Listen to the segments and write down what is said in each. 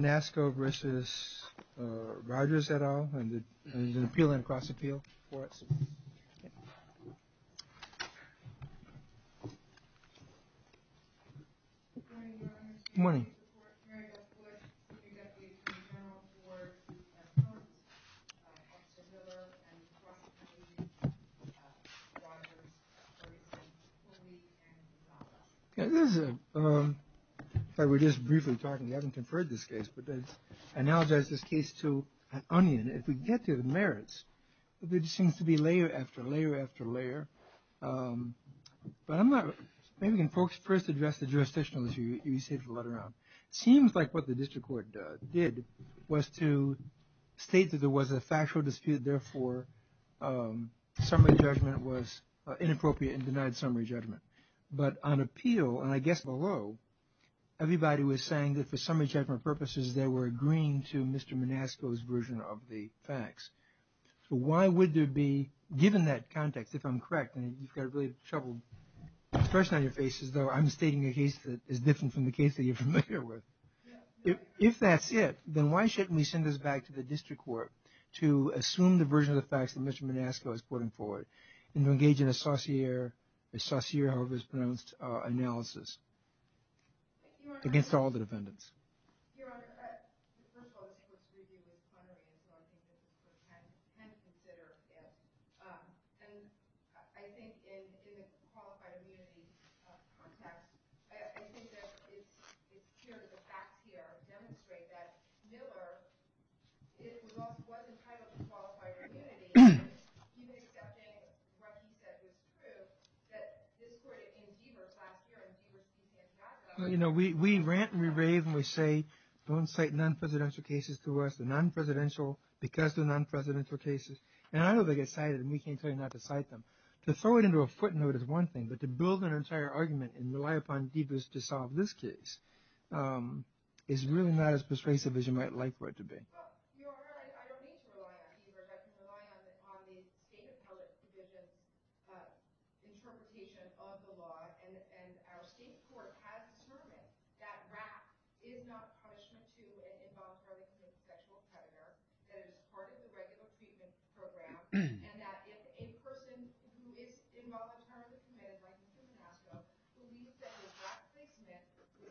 Manasco v. Rodgers, et al., and there's an appeal and a cross-appeal for us. Good morning. Good morning. If I were just briefly talking, we haven't conferred this case, but I now address this case to an onion. If we get to the merits, there seems to be layer after layer after layer, but I'm not – maybe we can first address the jurisdictional issue you said you brought around. It seems like what the district court did was to state that there was a factual dispute, therefore summary judgment was inappropriate and denied summary judgment. But on appeal, and I guess below, everybody was saying that for summary judgment purposes, they were agreeing to Mr. Manasco's version of the facts. So why would there be – given that context, if I'm correct, and you've got a really troubled person on your faces, though I'm stating a case that is different from the case that you're familiar with. If that's it, then why shouldn't we send this back to the district court to assume the version of the facts that Mr. Manasco is putting forward and to engage in a saucier or mispronounced analysis against all the defendants? Your Honor, first of all, this is something that the district court can consider, and I think in a qualified immunity context, I think that it's clear that the facts here demonstrate that Miller wasn't entitled to qualified immunity. He makes that statement, what he says is true, that this court in Deaver last year – you know, we rant and we rave and we say, don't cite non-presidential cases to us, the non-presidential because of the non-presidential cases, and I know they get cited and we can't pay enough to cite them. To throw it into a footnote is one thing, but to build an entire argument and rely upon Deavers to solve this case is really not as persuasive as you might like for it to be. Your Honor, I don't mean to throw it out to you, but I think the law has an obvious state of the art, interpretation of the law, and our state court has determined that RAC is not a punishment to the involuntary sexual predator that is part of the regular treatment program, and that if a person who is involuntarily committed, like you just said, when we say RAC makes men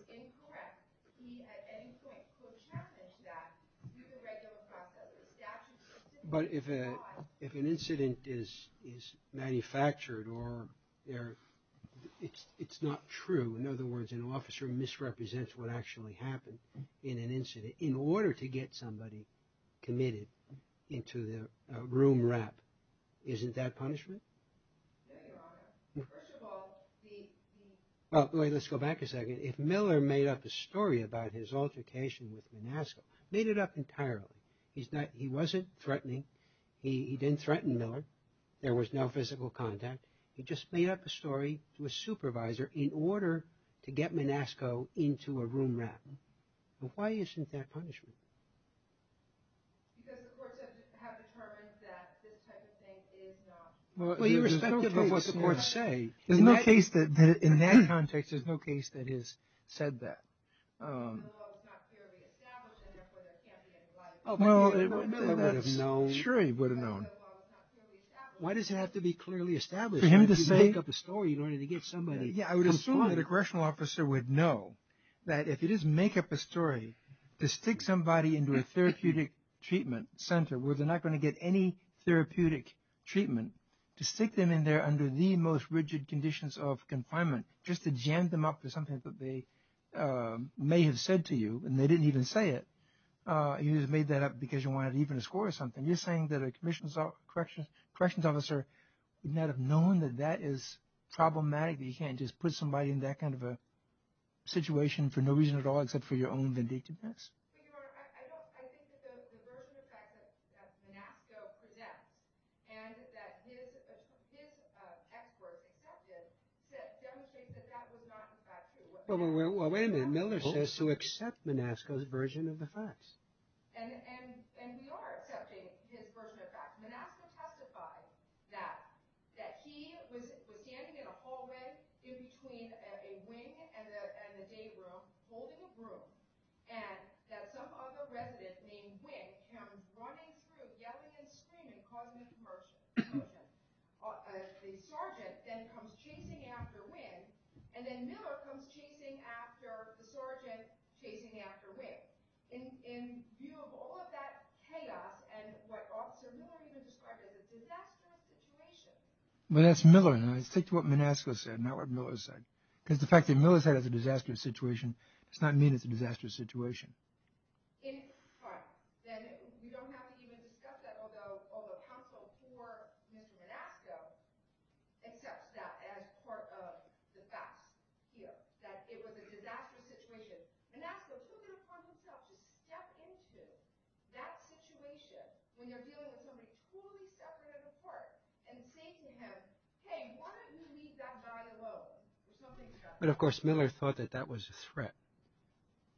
incorrect, we at any point could challenge that through the regular process. But if an incident is manufactured or it's not true, in other words an officer misrepresents what actually happened in an incident, in order to get somebody committed into the room RAP, isn't that punishment? Let's go back a second. If Miller made up a story about his altercation with Manasco, made it up entirely, he wasn't threatening, he didn't threaten Miller, there was no physical contact, he just made up a story to a supervisor in order to get Manasco into a room RAP, why isn't that punishment? Well, irrespective of what the courts say, in that context there's no case that has said that. Well, sure he would have known. Why does it have to be clearly established? To make up a story in order to get somebody... Yeah, I would assume that a correctional officer would know that if it is to make up a story, to stick somebody into a therapeutic treatment center where they're not going to get any therapeutic treatment, to stick them in there under the most rigid conditions of confinement, just to jam them up to something that they may have said to you and they didn't even say it, you made that up because you wanted even a score or something. You're saying that a corrections officer might have known that that is problematic, that you can't just put somebody in that kind of a situation for no reason at all except for your own vindictiveness. I think that there's a version of facts that Manasco presents and that his experts accepted that demonstrates that that was not the fact. Well, wait a minute. Miller says to accept Manasco's version of the facts. And we are accepting his version of the facts. Manasco testified that he was standing in a hallway in between a wing and a gate room holding a broom and that some other resident named Wick found running through the other end of the screen and causing a commotion. A sergeant then comes chasing after Wick and then Miller comes chasing after the sergeant chasing after Wick. In view of all of that chaos and what Officer Miller described as a disaster situation... Well, that's Miller. And I stick to what Manasco said, not what Miller said. Because the fact that Miller said it was a disaster situation does not mean it's a disaster situation. But, of course, Miller thought that that was a threat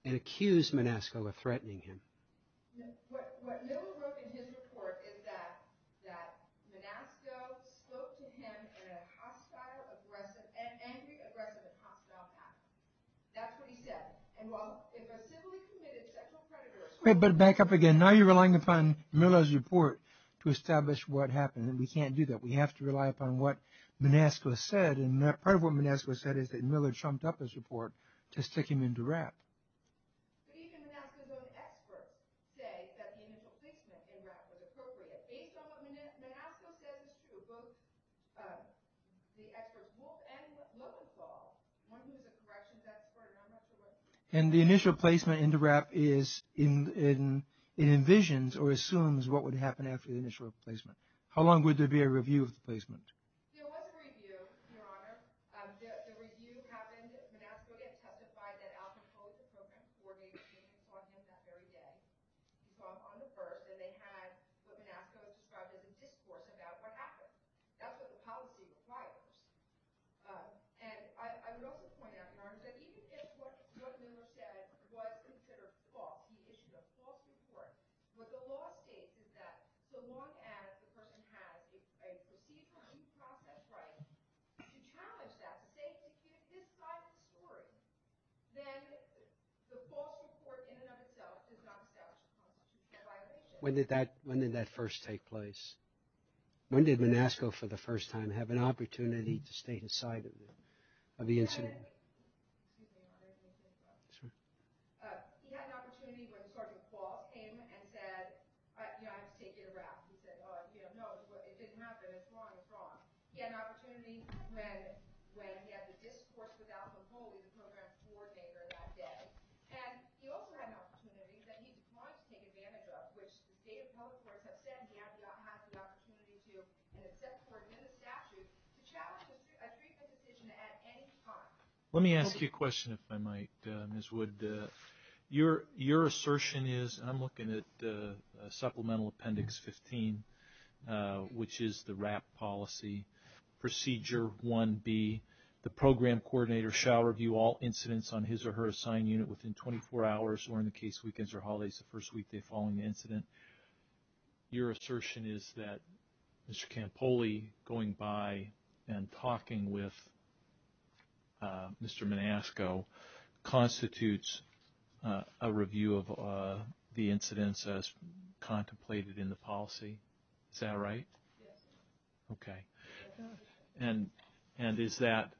and accused Manasco of threatening him. But back up again. Now you're relying upon Miller's report to establish what happened. And we can't do that. We have to rely upon what Manasco said. And part of what Manasco said is that Miller chomped up his report to stick him into WRAP. And the initial placement into WRAP is... It envisions or assumes what would happen after the initial placement. How long would there be a review of the placement? When did that first take place? When did Manasco for the first time have an opportunity to stay inside of the incident? I don't know. But it didn't happen as long as thought. He had an opportunity when he had the discourse about the rules and programs for day-third-by-day. And he also had an opportunity that he wanted to take advantage of, which the State of California has said he has not had the opportunity to assess court and the statute to challenge a recent decision at any time. Let me ask you a question, if I might, Ms. Wood. Your assertion is, and I'm looking at Supplemental Appendix 15, which is the WRAP policy, Procedure 1B, the program coordinator shall review all incidents on his or her assigned unit within 24 hours or in the case of weekends or holidays the first week following the incident. Your assertion is that Mr. Campoli going by and talking with Mr. Manasco constitutes a review of the incidents as contemplated in the policy. Is that right? Yes. Okay. And is that,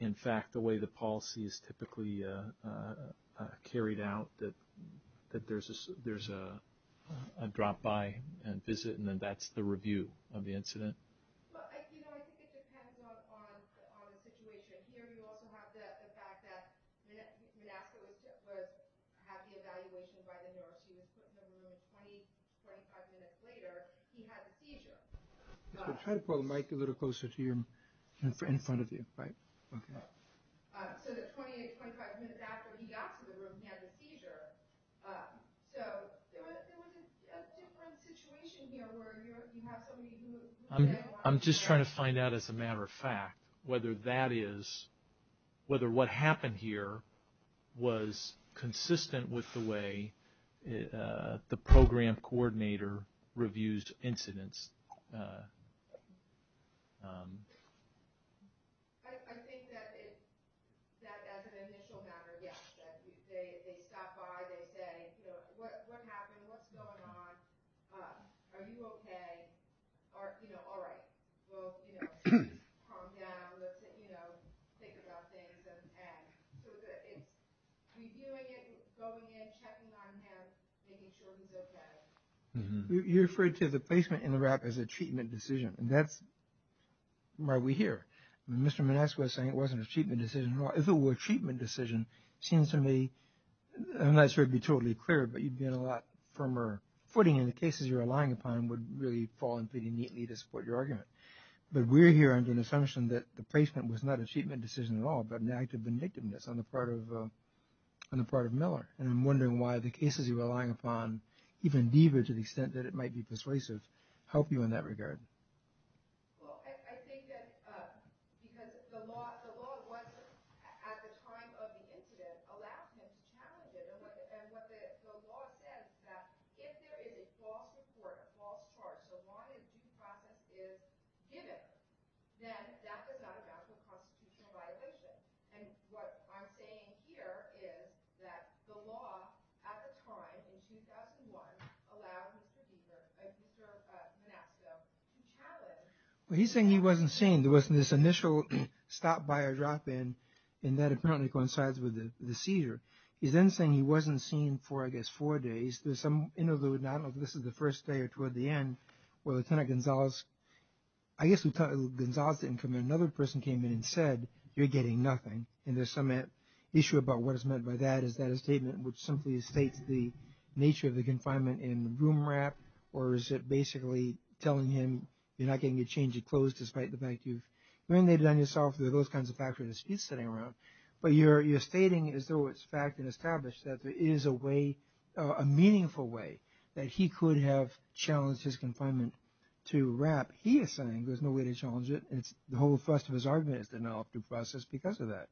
in fact, the way the policy is typically carried out, that there's a drop-by and visit and then that's the review of the incident? You know, I think it depends on the situation. Here you also have the fact that Manasco was at the evaluation by the New York State Attorney. Twenty-five minutes later, he had a seizure. Try to pull the mic a little closer to your friend in front of you. Okay. So 28 to 25 minutes after he got to the room, he had a seizure. So there was a different situation here where you have somebody I'm just trying to find out as a matter of fact whether that is whether what happened here was consistent with the way the program coordinator reviews incidents. I think that as an initial matter, yes. They stop by, they say, you know, what happened, what's going on, are you okay, or, you know, all right. So, you know, calm down, you know, think about things. And reviewing it, going in, checking on him, making sure he looks at it. You referred to the placement in the wrap as a treatment decision, and that's why we're here. Mr. Manasco was saying it wasn't a treatment decision. If it were a treatment decision, it seems to me, I'm not sure it would be totally clear, but you'd be on a lot firmer footing, and the cases you're relying upon would really fall into the neatly to support your argument. But we're here under the assumption that the placement was not a treatment decision at all, but an act of inactiveness on the part of Miller. And I'm wondering why the cases you're relying upon, even deeper to the extent that it might be persuasive, help you in that regard. Well, I think that because the law wasn't, at the time of the incident, allowed him to challenge it. And what the law says is that if there is a false report, a false charge, the law is given, then that was not a constitutional violation. And what I'm saying here is that the law, at the time, in 2001, allowed Mr. Manasco to challenge it. But he's saying he wasn't seeing this initial stop, buy, or drop in, and that apparently coincides with the seizure. He's then saying he wasn't seen for, I guess, four days. There's some interlude, and I don't know if this was the first day or toward the end, where Lieutenant Gonzales, I guess we thought it was Gonzales didn't come in. Another person came in and said, you're getting nothing. And there's some issue about what is meant by that. Is that a statement which simply states the nature of the confinement and the room wrap, or is it basically telling him, you're not getting a change of clothes despite the fact you've But you're stating, as though it's fact and established, that there is a way, a meaningful way, that he could have challenged his confinement to wrap. He is saying there's no way to challenge it, and the whole thrust of his argument is denied after the process because of that,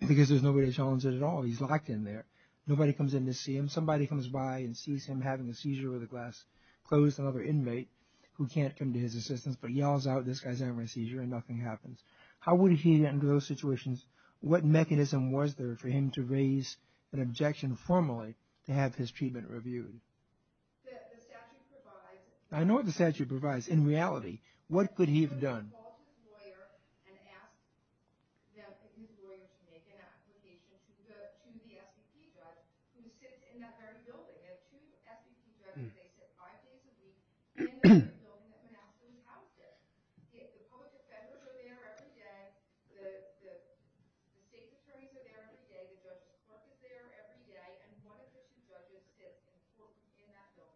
because there's no way to challenge it at all. He's locked in there. Nobody comes in to see him. Somebody comes by and sees him having the seizure with the glass closed, another inmate, who can't come to his assistance, but yells out, this guy's having a seizure, and nothing happens. How would he get into those situations? What mechanism was there for him to raise an objection formally to have his treatment reviewed? I know what the statute provides. In reality, what could he have done?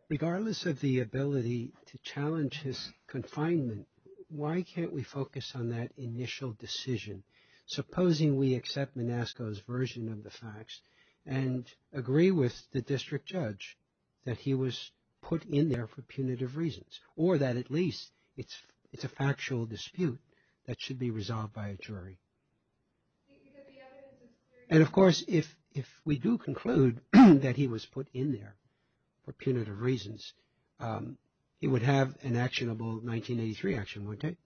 Regardless of the ability to challenge his confinement, why can't we focus on that initial decision? Supposing we accept Manasco's version of the facts and agree with the district judge that he was put in there for punitive reasons, or that at least it's a factual dispute that should be resolved by a jury. And, of course, if we do conclude that he was put in there for punitive reasons, he would have an actionable 1983 action, wouldn't he?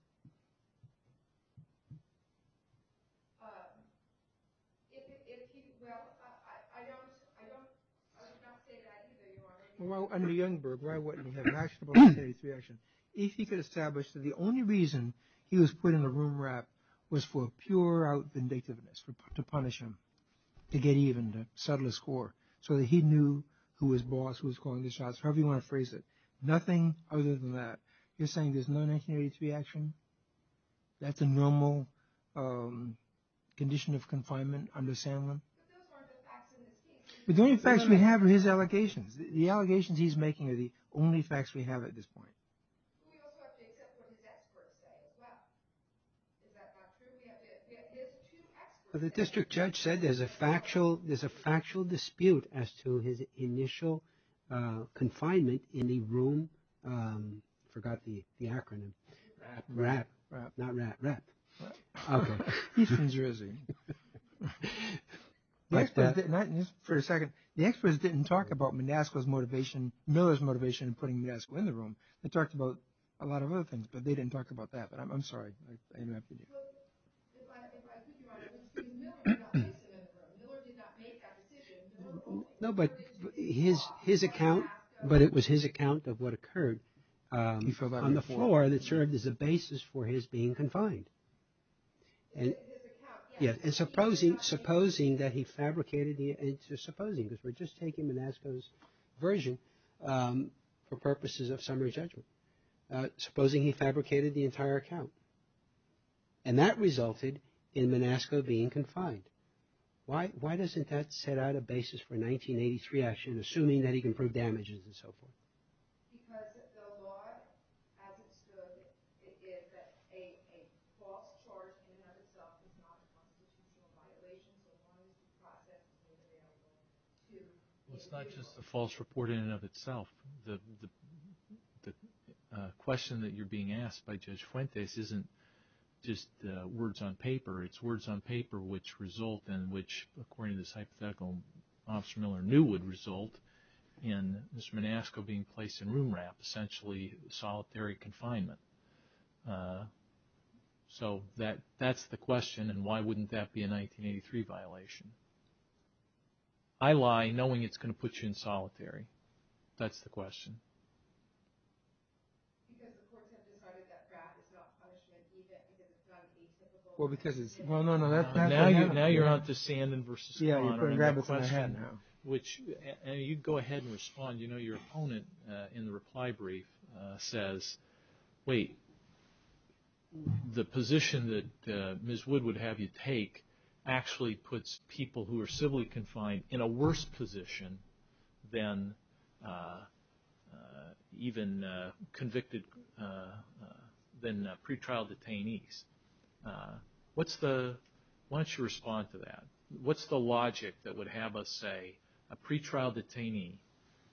Well, under Youngberg, why wouldn't he have an actionable 1983 action? If he could establish that the only reason he was put in a room wrap was for pure vindictiveness, to punish him, to get even, the subtlest score, so that he knew who was boss, who was calling the shots, however you want to phrase it. Nothing other than that. You're saying there's no 1983 action? That's a normal condition of confinement under Sandlin? The only facts we have are his allegations. The allegations he's making are the only facts we have at this point. So the district judge said there's a factual dispute as to his initial confinement in the room... I forgot the acronym. Wrap. Not wrap. Okay. He's from Jersey. For a second. The experts didn't talk about Midasco's motivation, Miller's motivation in putting Midasco in the room. They talked about a lot of other things, but they didn't talk about that. I'm sorry. No, but his account, but it was his account of what occurred on the floor that served as a basis for his being confined. And supposing that he fabricated... It's just supposing, because we're just taking Midasco's version for purposes of summary judgment. Supposing he fabricated the entire account. And that resulted in Midasco being confined. Why doesn't that set out a basis for 1983 action, assuming that he can prove damages and so forth? It's not just a false report in and of itself. The question that you're being asked by Judge Fuentes isn't just words on paper. It's words on paper which result in, which according to this hypothetical, Officer Miller knew would result in Mr. Midasco being placed in room wrap, essentially solitary confinement. So that's the question, and why wouldn't that be a 1983 violation? I lie knowing it's going to put you in solitary. That's the question. Now you're out to standing versus... You can go ahead and respond. Your opponent in the reply brief says, wait, the position that Ms. Wood would have you take actually puts people who are civilly confined in a worse position than even convicted, than pretrial detainees. Why don't you respond to that? What's the logic that would have us say a pretrial detainee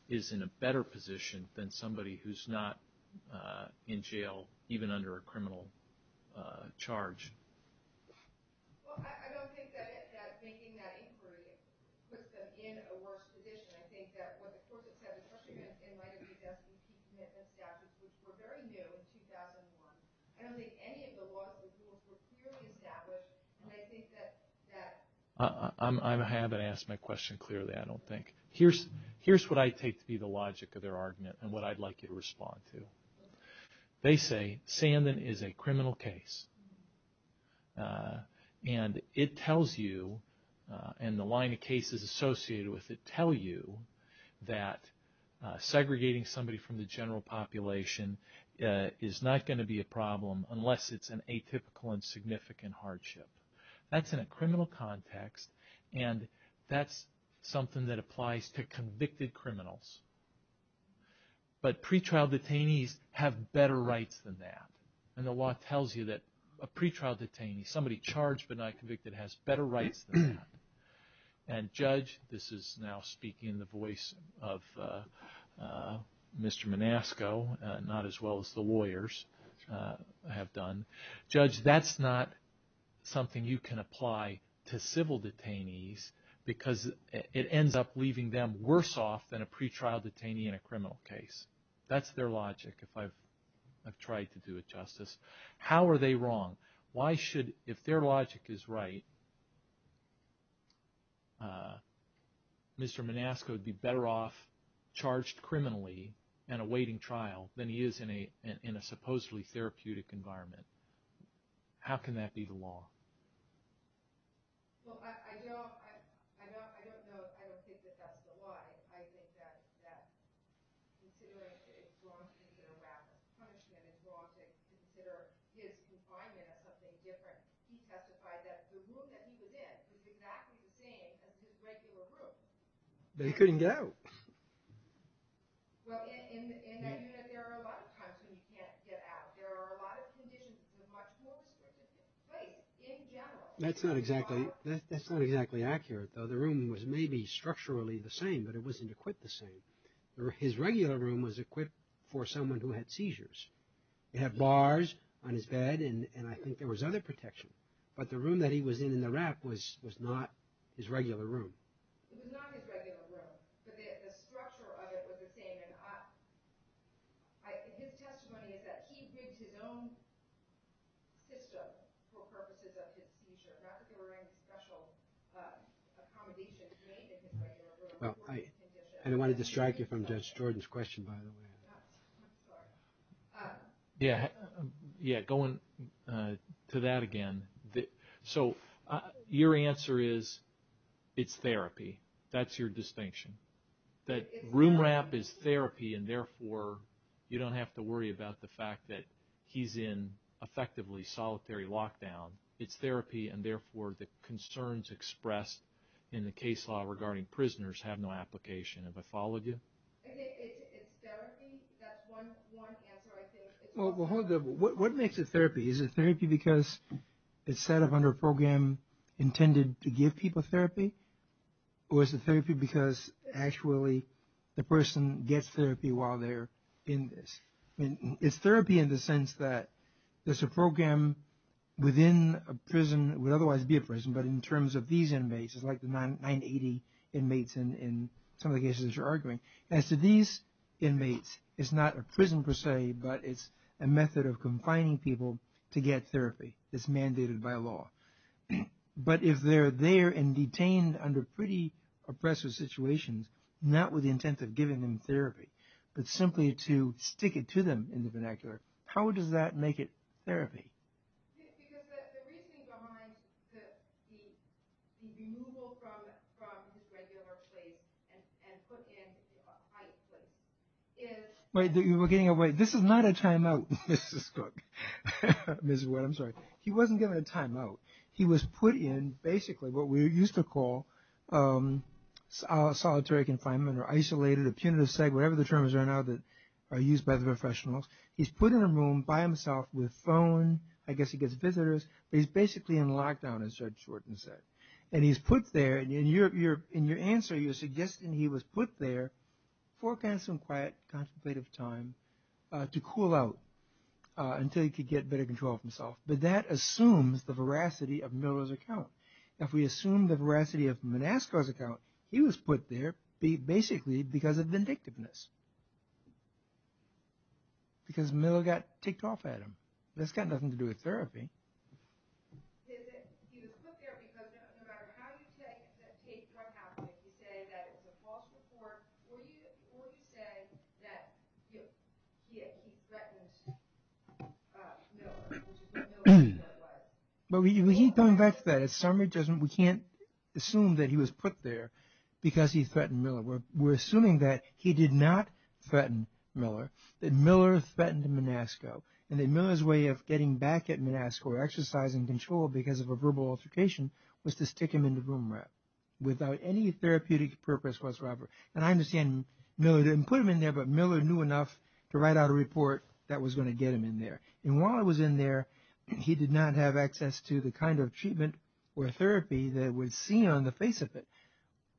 is in a better position than somebody who's not in jail, even under a criminal charge? I think that... I haven't asked my question clearly, I don't think. Here's what I take to be the logic of their argument and what I'd like you to respond to. They say Sandin is a criminal case, and it tells you, and the line of cases associated with it tell you that segregating somebody from the general population is not going to be a problem unless it's an atypical and significant hardship. That's in a criminal context, and that's something that applies to convicted criminals. But pretrial detainees have better rights than that, and the law tells you that a pretrial detainee, somebody charged but not convicted, has better rights than that. And Judge, this is now speaking in the voice of Mr. Manasco, not as well as the lawyers have done, Judge, that's not something you can apply to civil detainees because it ends up leaving them worse off than a pretrial detainee in a criminal case. That's their logic, if I've tried to do it justice. How are they wrong? Why should, if their logic is right, Mr. Manasco would be better off charged criminally and awaiting trial than he is in a supposedly therapeutic environment. How can that be the law? Well, I don't know, I don't think that that's the law. I think that, considering it's wrong to consider wrath as punishment, it's wrong to consider his confinement as something different. He testified that the room that he was in was exactly the same as his regular room. But he couldn't get out. Well, and there are a lot of times when he can't get out. There are a lot of conditions that are much more significant. That's not exactly accurate, though. The room was maybe structurally the same, but it wasn't equipped the same. His regular room was equipped for someone who had seizures. He had bars on his bed, and I think there was other protection. But the room that he was in in Iraq was not his regular room. I don't want to distract you from Judge Jordan's question, by the way. Yeah, going to that again. So your answer is it's therapy. That's your distinction. That room wrap is therapy, and therefore you don't have to worry about the fact that he's in effectively solitary lockdown. It's therapy, and therefore the concerns expressed in the case law regarding prisoners have no application. Does that follow you? Well, what makes it therapy? Is it therapy because it's set up under a program intended to give people therapy? Or is it therapy because actually the person gets therapy while they're in this? It's therapy in the sense that there's a program within a prison that would otherwise be a prison, but in terms of these inmates, it's like the 980 inmates in some of the cases you're arguing. As to these inmates, it's not a prison per se, but it's a method of confining people to get therapy. It's mandated by law. But if they're there and detained under pretty oppressive situations, not with the intent of giving them therapy, but simply to stick it to them in the vernacular, how does that make it therapy? You were getting away. This is not a timeout, Mrs. Cook. I'm sorry. He wasn't given a timeout. He was put in basically what we used to call solitary confinement or isolated, whatever the terms are now that are used by the professionals. He's put in a room by himself with a phone. I guess he gets visitors. But he's basically in lockdown, as Judge Shorten said. And he's put there. In your answer, you're suggesting he was put there, forecast some quiet, contemplative time to cool out until he could get better control of himself. But that assumes the veracity of Miller's account. If we assume the veracity of Menasca's account, he was put there basically because of vindictiveness, because Miller got ticked off at him. That's got nothing to do with therapy. We keep coming back to that. We can't assume that he was put there because he threatened Miller. We're assuming that he did not threaten Miller, that Miller threatened Menasca, and that Miller's way of getting back at Menasca or exercising control because of a verbal altercation was to stick him in the boomerang without any therapeutic purpose whatsoever. And I understand Miller didn't put him in there, but Miller knew enough to write out a report that was going to get him in there. And while he was in there, he did not have access to the kind of treatment or therapy that was seen on the face of it,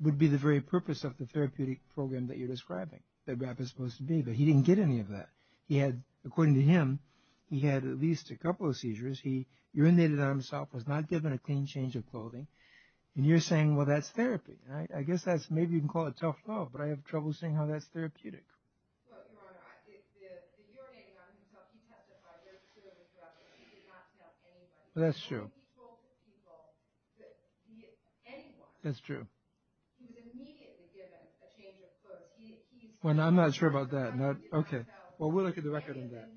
would be the very purpose of the therapeutic program that you're describing, that BAP is supposed to be. But he didn't get any of that. According to him, he had at least a couple of seizures. He urinated on himself, was not given a clean change of clothing. And you're saying, well, that's therapy. I guess maybe you can call it self-love, but I have trouble seeing how that's therapeutic. That's true. That's true. Well, I'm not sure about that. Okay. Well, we'll look at the record on that.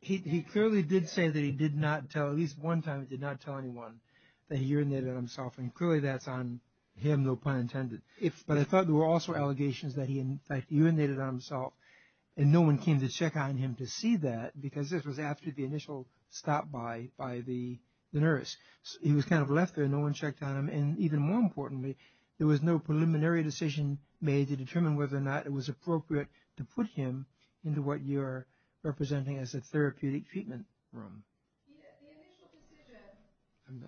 He clearly did say that he did not tell, at least one time, he did not tell anyone that he urinated on himself, and clearly that's on him, though pun intended. But I thought there were also allegations that he, in fact, urinated on himself, and no one came to check on him to see that, because this was after the initial stop by the nurse. He was kind of left there. No one checked on him. And even more importantly, there was no preliminary decision made to determine whether or not it was appropriate to put him into what you're representing as a therapeutic treatment room. The initial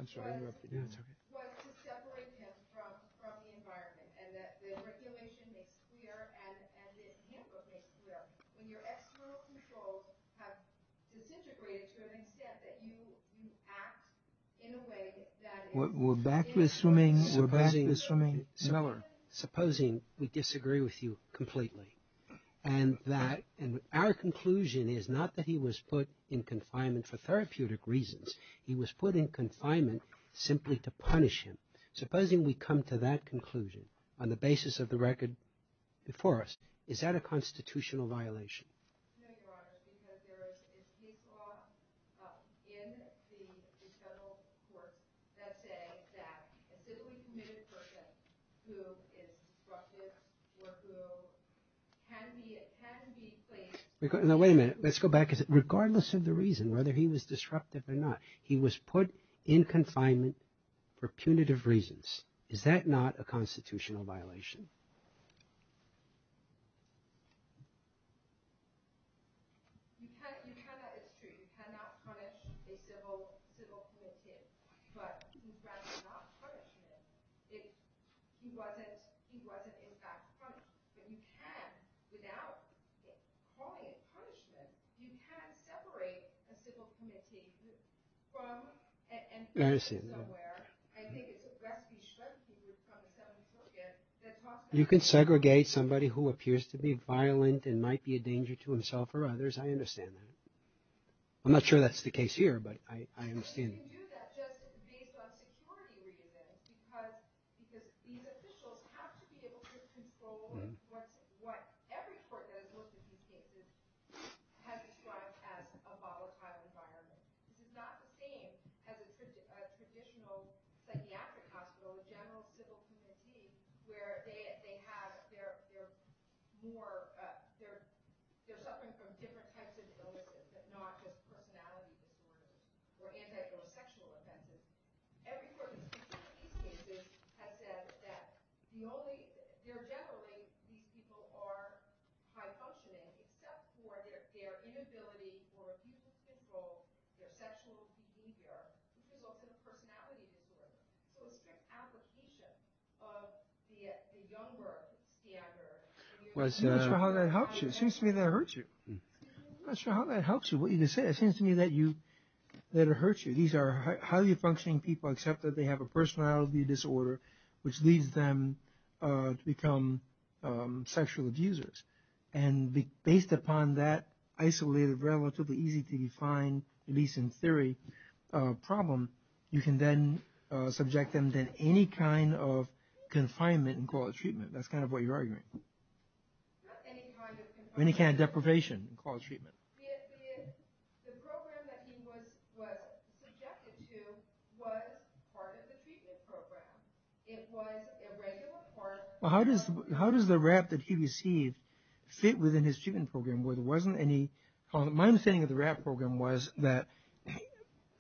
decision was to separate him from the environment and that the regulation makes clear and it amplifies the reality. When your external control has disintegrated, shouldn't it be said that you act in a way that is... We're back to assuming... Supposing we disagree with you completely, and our conclusion is not that he was put in confinement for therapeutic reasons, he was put in confinement simply to punish him. Supposing we come to that conclusion on the basis of the record before us, is that a constitutional violation? Wait a minute. Let's go back. Regardless of the reason, whether he was disruptive or not, he was put in confinement for punitive reasons. Okay. I'm sorry. You kind of... It's true. You cannot punish a civil committee, but you cannot punish him if he wasn't in fact punished. But you can, without calling it punishment, you can't separate a civil committee from... I understand that. I think it's... You can segregate somebody who appears to be violent and might be a danger to himself or others. I understand that. I'm not sure that's the case here, but I understand. You can do that just based on security reasons, because these officials have to be able to control what every court does with these cases, having tried to have a volatile environment. It's not the same as a traditional psychiatric hospital, a general civil committee, where they have their more... They're suffering from different types of illnesses, but not with personality disorders or antisocial or sexual offenses. Every court has said that the only... They're generally... These people are high-functioning, except for their inability to control their sexual behavior, even though it's a personality disorder. So it's an application of the younger... I'm not sure how that helps you. It seems to me that it hurts you. These are highly-functioning people, except that they have a personality disorder, which leads them to become sexual abusers. And based upon that isolated, relatively easy-to-define, at least in theory, problem, you can then subject them to any kind of confinement in quality treatment. That's kind of what you're arguing. Any kind of deprivation. The program that he was subjected to was part of the treatment program. It was a regular part... Well, how does the RAP that he received fit within his treatment program? My understanding of the RAP program was that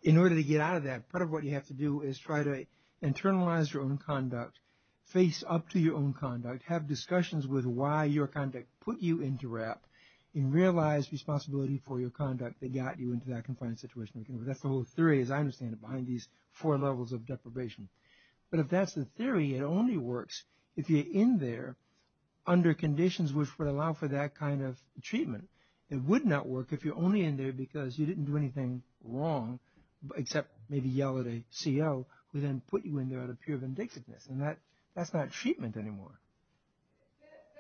in order to get out of that, part of what you have to do is try to internalize your own conduct, face up to your own conduct, have discussions with why your conduct put you into RAP, and realize responsibility for your conduct that got you into that confined situation. That's the whole theory, as I understand it, behind these four levels of deprivation. But if that's the theory, it only works if you're in there under conditions which would allow for that kind of treatment. It would not work if you're only in there because you didn't do anything wrong, except maybe yell at a CO who then put you in there out of pure vindictiveness. And that's not treatment anymore.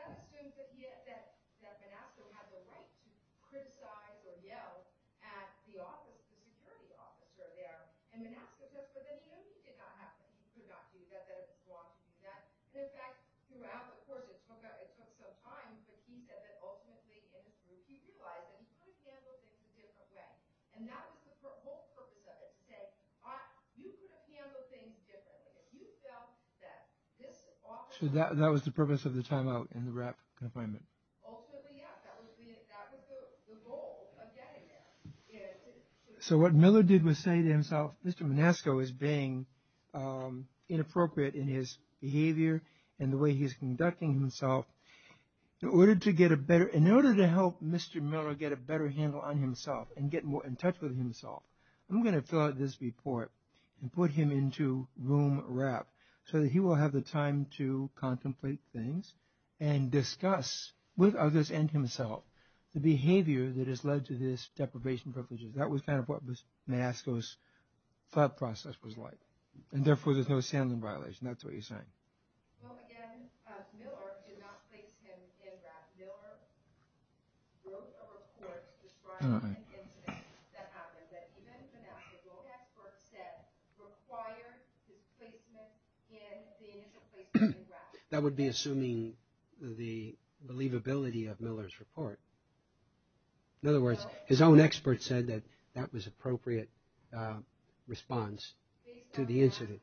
That's the thing that he had said, that the NAFTA had the right to criticize or yell at the office, the attorney officer there, and the NAFTA said, but then you don't think it's going to happen. He took off. He said that it was wrong. He said, in fact, throughout the court, he talked about it a couple of times, but he said that ultimately, if he's utilizing, he's going to handle things in a different way. And that was the whole purpose of it, to say, all right, you can handle things differently. So that was the purpose of the time out in the RAP confinement. So what Miller did was say to himself, Mr. Manasco is being inappropriate in his behavior and the way he's conducting himself. In order to get a better, in order to help Mr. Miller get a better handle on himself and get more in touch with himself, I'm going to fill out this report and put him into room RAP so that he will have the time to contemplate things and discuss with others and himself the behavior that has led to this deprivation of privileges. That was kind of what Mr. Manasco's thought process was like. And therefore, there was handling violation. That's what he's saying. That would be assuming the believability of Miller's report. In other words, his own expert said that that was appropriate response to the incident.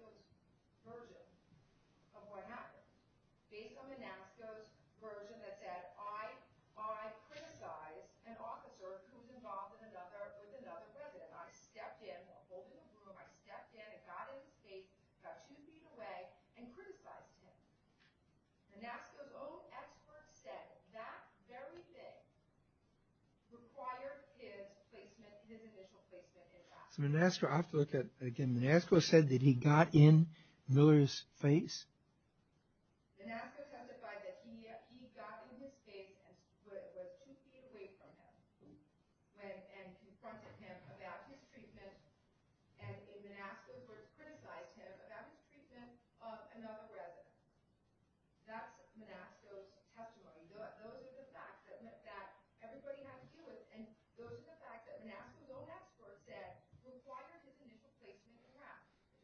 Manasco said that he got in Miller's face. Manasco was criticized him for that treatment of another resident. That's Manasco's testimony. Those are the facts that everybody has to deal with. And those are the facts that Manasco's own expert said required the commission to place him in RAP.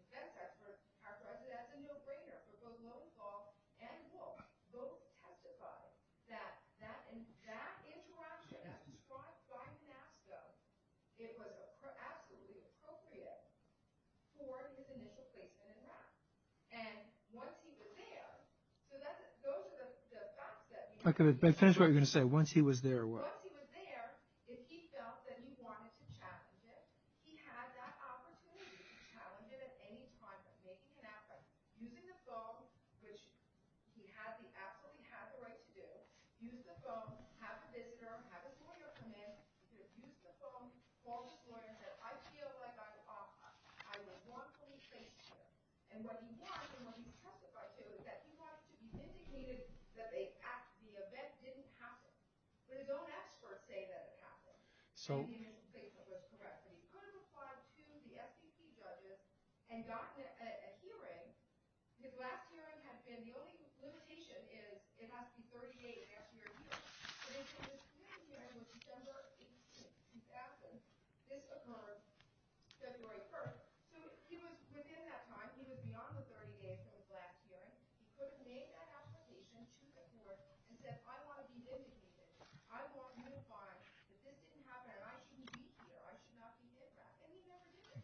That expert, our president, the no-brainer for both Miller's law and war, both testified that in that interaction, that response by Manasco, it was absolutely appropriate for his initial placement in RAP. And once he was there, so those are the facts that... Okay, but tell us what you were going to say. Once he was there, what? Once he was there, if he felt that he wanted to test it, he had that opportunity to test it at any time. It can happen using the phone, which he had the right to do, use the phone, have a visitor, have a lawyer come in, use the phone, call the lawyer and say, I feel like I was wrongfully placed there. And what he wanted when he testified there was that he had to be vindicated that the event didn't happen. So don't ask for a statement that it happened. He could have applied to the FTC judges and gotten a hearing. His last hearing has been, the only limitation is, it has to be 48 and a half years later. His last hearing was December 18th. His absence just occurred February 1st. So he was within that time, he was beyond those 48 days of his last hearing, but he made that application to the court and said, I want to be vindicated. I want him to find that this didn't happen and I shouldn't be here, I should not be here. And he never did.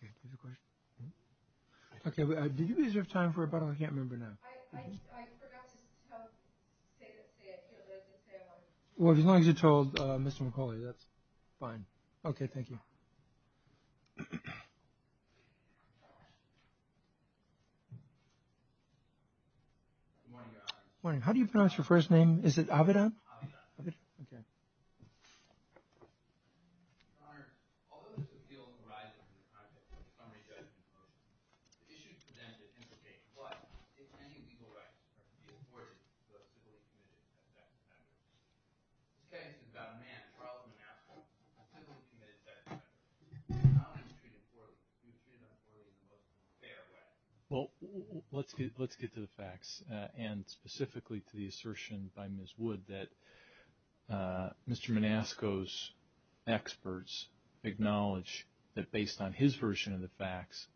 Okay, did you guys have time for a button? I can't remember now. I forgot to tell David to say it. Well, as long as you told Mr. McCullough, that's fine. Okay, thank you. Morning, how do you pronounce your first name? Is it Avedon? Avedon. Okay. Okay. Well, let's get to the facts and specifically to the assertion by Ms. Wood that Mr. Manasco's experts acknowledge that based on his version of the facts,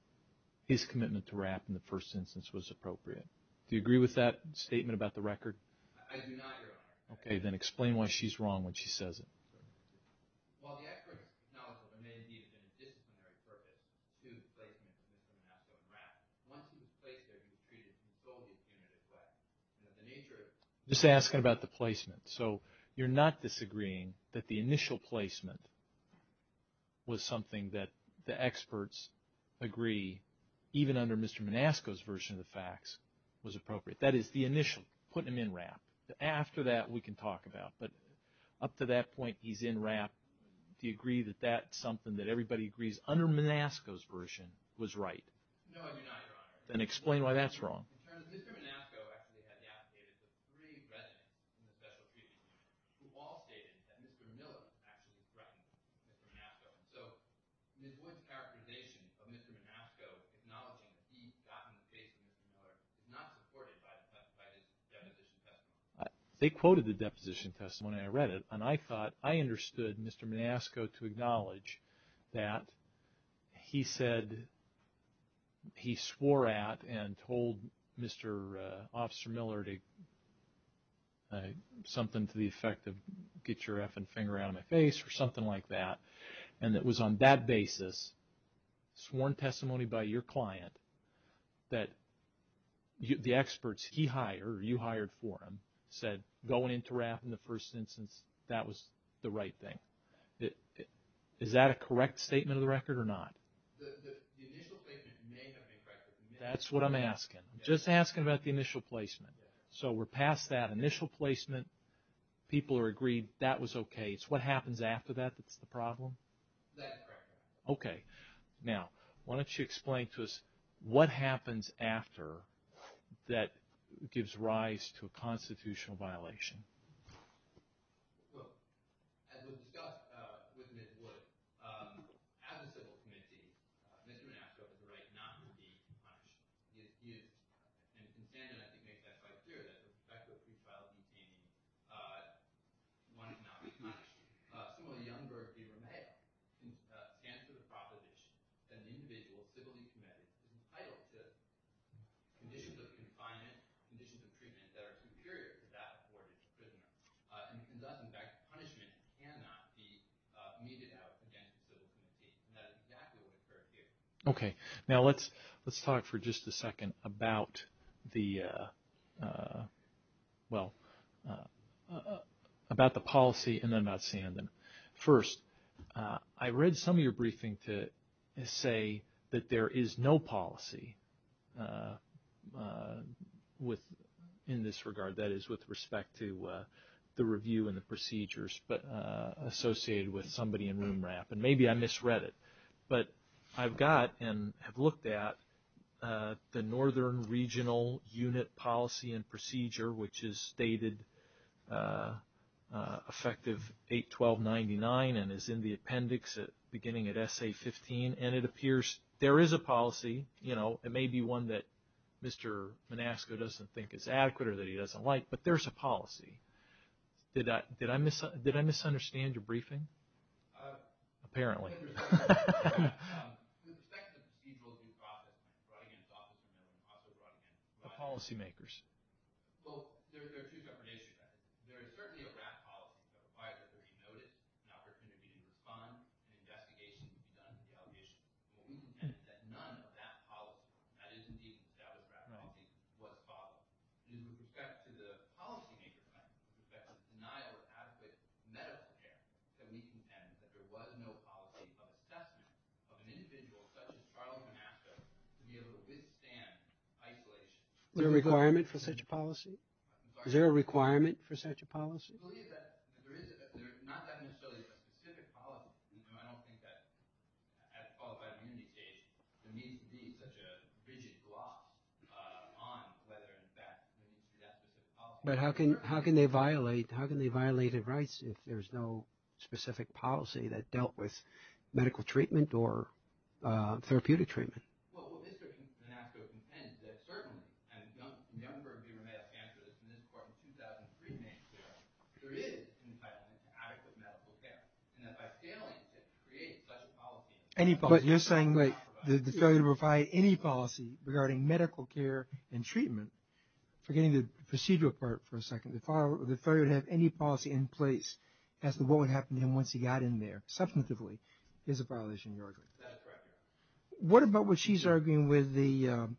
his commitment to RAP in the first instance was appropriate. Do you agree with that statement about the record? I do not, Your Honor. Okay, then explain why she's wrong when she says it. Well, the accurate analysis of amenity has been a disciplinary purpose due to the placement of Mr. Manasco in RAP. Once he was placed there, he was treated in a solely accounted way. The nature of – Just asking about the placement. So you're not disagreeing that the initial placement was something that the experts agree, even under Mr. Manasco's version of the facts, was appropriate. That is, the initial, putting him in RAP. After that, we can talk about it. Up to that point, he's in RAP. Do you agree that that's something that everybody agrees under Manasco's version was right? No, I do not, Your Honor. Then explain why that's wrong. Ms. Wood's characterization of Mr. Manasco acknowledges that he was not reported by the test site in the deposition test. They quoted the deposition test when I read it, and I thought I understood Mr. Manasco to acknowledge that he said he swore at and told Mr. Officer Miller something to the effect of, get your effing finger out of my face or something like that, and it was on that basis, sworn testimony by your client, that the experts he hired or you hired for him said going into RAP in the first instance, that was the right thing. Is that a correct statement of the record or not? The initial placement may have been correct. That's what I'm asking. I'm just asking about the initial placement. So we're past that initial placement. People agreed that was okay. So what happens after that is the problem? That is correct. Okay. Now, why don't you explain to us what happens after that gives rise to a constitutional violation. As was discussed with Ms. Woods, as a civil committee, Mr. Manasco was right not to be punished. He is. And as you make that quite clear, that's respectful of his violence and pain. Why not be punished? So a number of people may have answered the proposition that an individual, civilly committed, entitled to conditions of confinement, conditions of treatment that are superior to that for which he's prisoned. And that, in fact, punishment cannot be meted out against a civilian. It's not exactly what it's trying to get at. Okay. Now, let's talk for just a second about the, well, about the policy and then I'll see you in a minute. First, I read some of your briefing to say that there is no policy in this regard, that is, with respect to the review and the procedures associated with somebody in NMRAP. And maybe I misread it. But I've got and have looked at the Northern Regional Unit Policy and Procedure, which is stated effective 8-12-99 and is in the appendix beginning at S.A. 15. And it appears there is a policy. It may be one that Mr. Manasco doesn't think is adequate or that he doesn't like, but there's a policy. Did I misunderstand your briefing? Apparently. A policymaker's. Well, there are two definitions of that. There is certainly a draft policy that requires that there be notice, an opportunity to respond, an investigation is done to the allegation. But we contend that none of that policy, and that is indeed without a doubt a draft policy, is what's possible. In respect to the policymaker's, in respect to denial of aspect, that we contend that there was no policy of assessment of an individual subject, are all going to have to be able to withstand isolation. Is there a requirement for such a policy? Is there a requirement for such a policy? Well, yes, there is. There is not necessarily a specific policy. And I don't think that as qualified community case, there needs to be such a rigid block on whether or not that specific policy. But how can they violate? How can they violate their rights if there is no specific policy that dealt with medical treatment or therapeutic treatment? Well, this is an act of contention. Certainly, a number of your medical experts in this court in 2003 made clear that there is an entitlement to adequate medical care. And that by failing to create such a policy. But you're saying that the failure to provide any policy regarding medical care and treatment, forgetting the procedural part for a second, the failure to have any policy in place as to what would happen to him once he got in there, substantively, is a violation of the order. That's correct. What about what she's arguing with the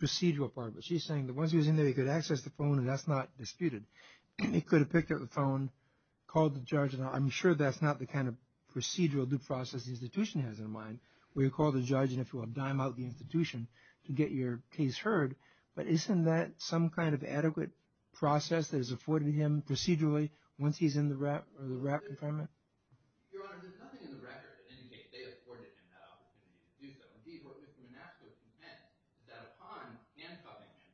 procedural part of it? She's saying that once he was in there, he could access the phone and that's not disputed. He could have picked up the phone, called the judge, and I'm sure that's not the kind of procedural due process the institution has in mind where you call the judge and, if you will, dime out the institution to get your case heard. But isn't that some kind of adequate process that is afforded to him procedurally once he's in the WRAP environment? Your Honor, there's something in the record that indicates they afforded him that opportunity to do so. Indeed, what Mr. Manasseh was content that upon handcuffing him,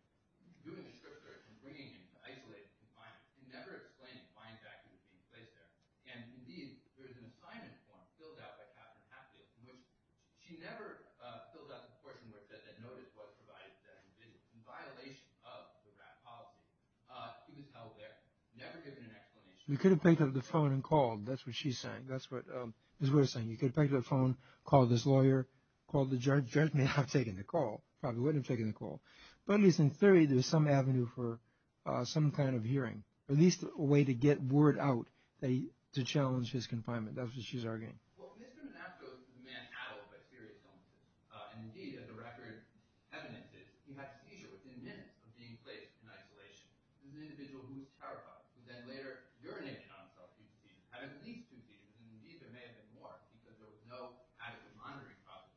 doing the surgery, and bringing him to isolated confinement, she never explained the fine factors that took place there. And, indeed, there is an assignment form filled out by Captain Hathaway which she never filled out the portion where it said that notice was provided that he was in violation of the WRAP policy. He was held there, never given an explanation. He could have picked up the phone and called. That's what she's saying. That's what Ms. Wood is saying. He could have picked up the phone, called his lawyer, called the judge. The judge may not have taken the call. Probably wouldn't have taken the call. But at least in theory, there's some avenue for some kind of hearing, at least a way to get word out to challenge his confinement. That's what she's arguing. Well, Mr. Manasseh was a man addled by theory. And, indeed, as the record evidences, you have to see it was in minutes of being placed in isolation. It was an individual who was terrorized. And then later urinated on himself. And, indeed, there may have been more, because there was no adequate monitoring process.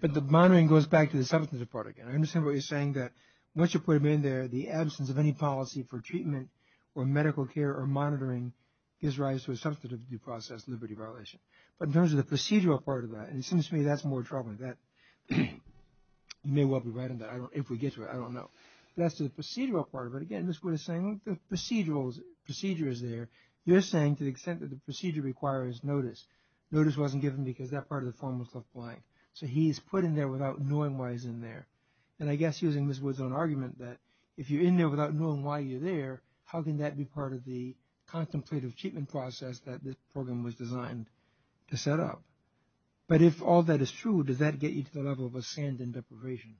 But the monitoring goes back to the substance of the part again. I understand what you're saying, that once you put him in there, the absence of any policy for treatment or medical care or monitoring gives rise to a substance abuse process, liberty violation. But in terms of the procedural part of that, and it seems to me that's more troubling. You may well be right on that. If we get to it, I don't know. That's the procedural part of it. Again, Ms. Wood is saying the procedure is there. You're saying to the extent that the procedure requires notice. Notice wasn't given because that part of the form was left blank. So he's put in there without knowing why he's in there. And I guess, using Ms. Wood's own argument, that if you're in there without knowing why you're there, how can that be part of the contemplative treatment process that this program was designed to set up? But if all that is true, does that get you to the level of a Sandin deprivation?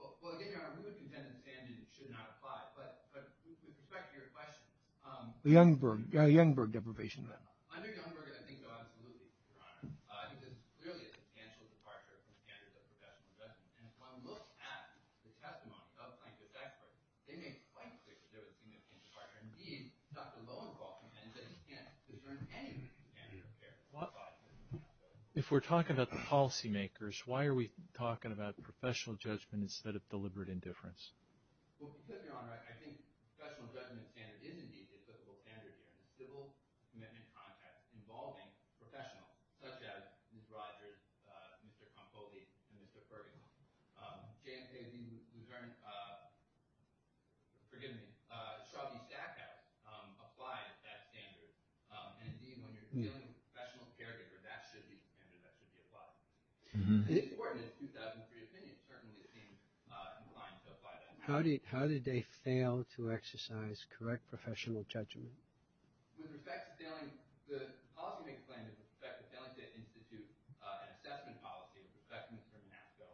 Well, I really think that the Sandin should not apply. But this is back to your question. Under Youngberg, I think, absolutely, Your Honor. I think there's clearly a substantial departure from the standards of professional judgment. And if one looks at the testimony of other plaintiff's experts, they make it quite clear that there was significant departure from the standards of professional judgment. If we're talking about the policymakers, why are we talking about professional judgment instead of deliberate indifference? Well, to put it, Your Honor, I think professional judgment standards is indeed the official standard in the civil commitment context involving professional subjects. Such as Mr. Rogers, Mr. Campoli, and Mr. Ferguson. Forgive me. Charlie Jack has applied that standard. And indeed, when you're dealing with professional caregivers, that should be applied. How did they fail to exercise correct professional judgment? With respect to Stanley, the policymaker's claim is with respect to Stanley to institute an assessment policy with respect to Mr. Nassau.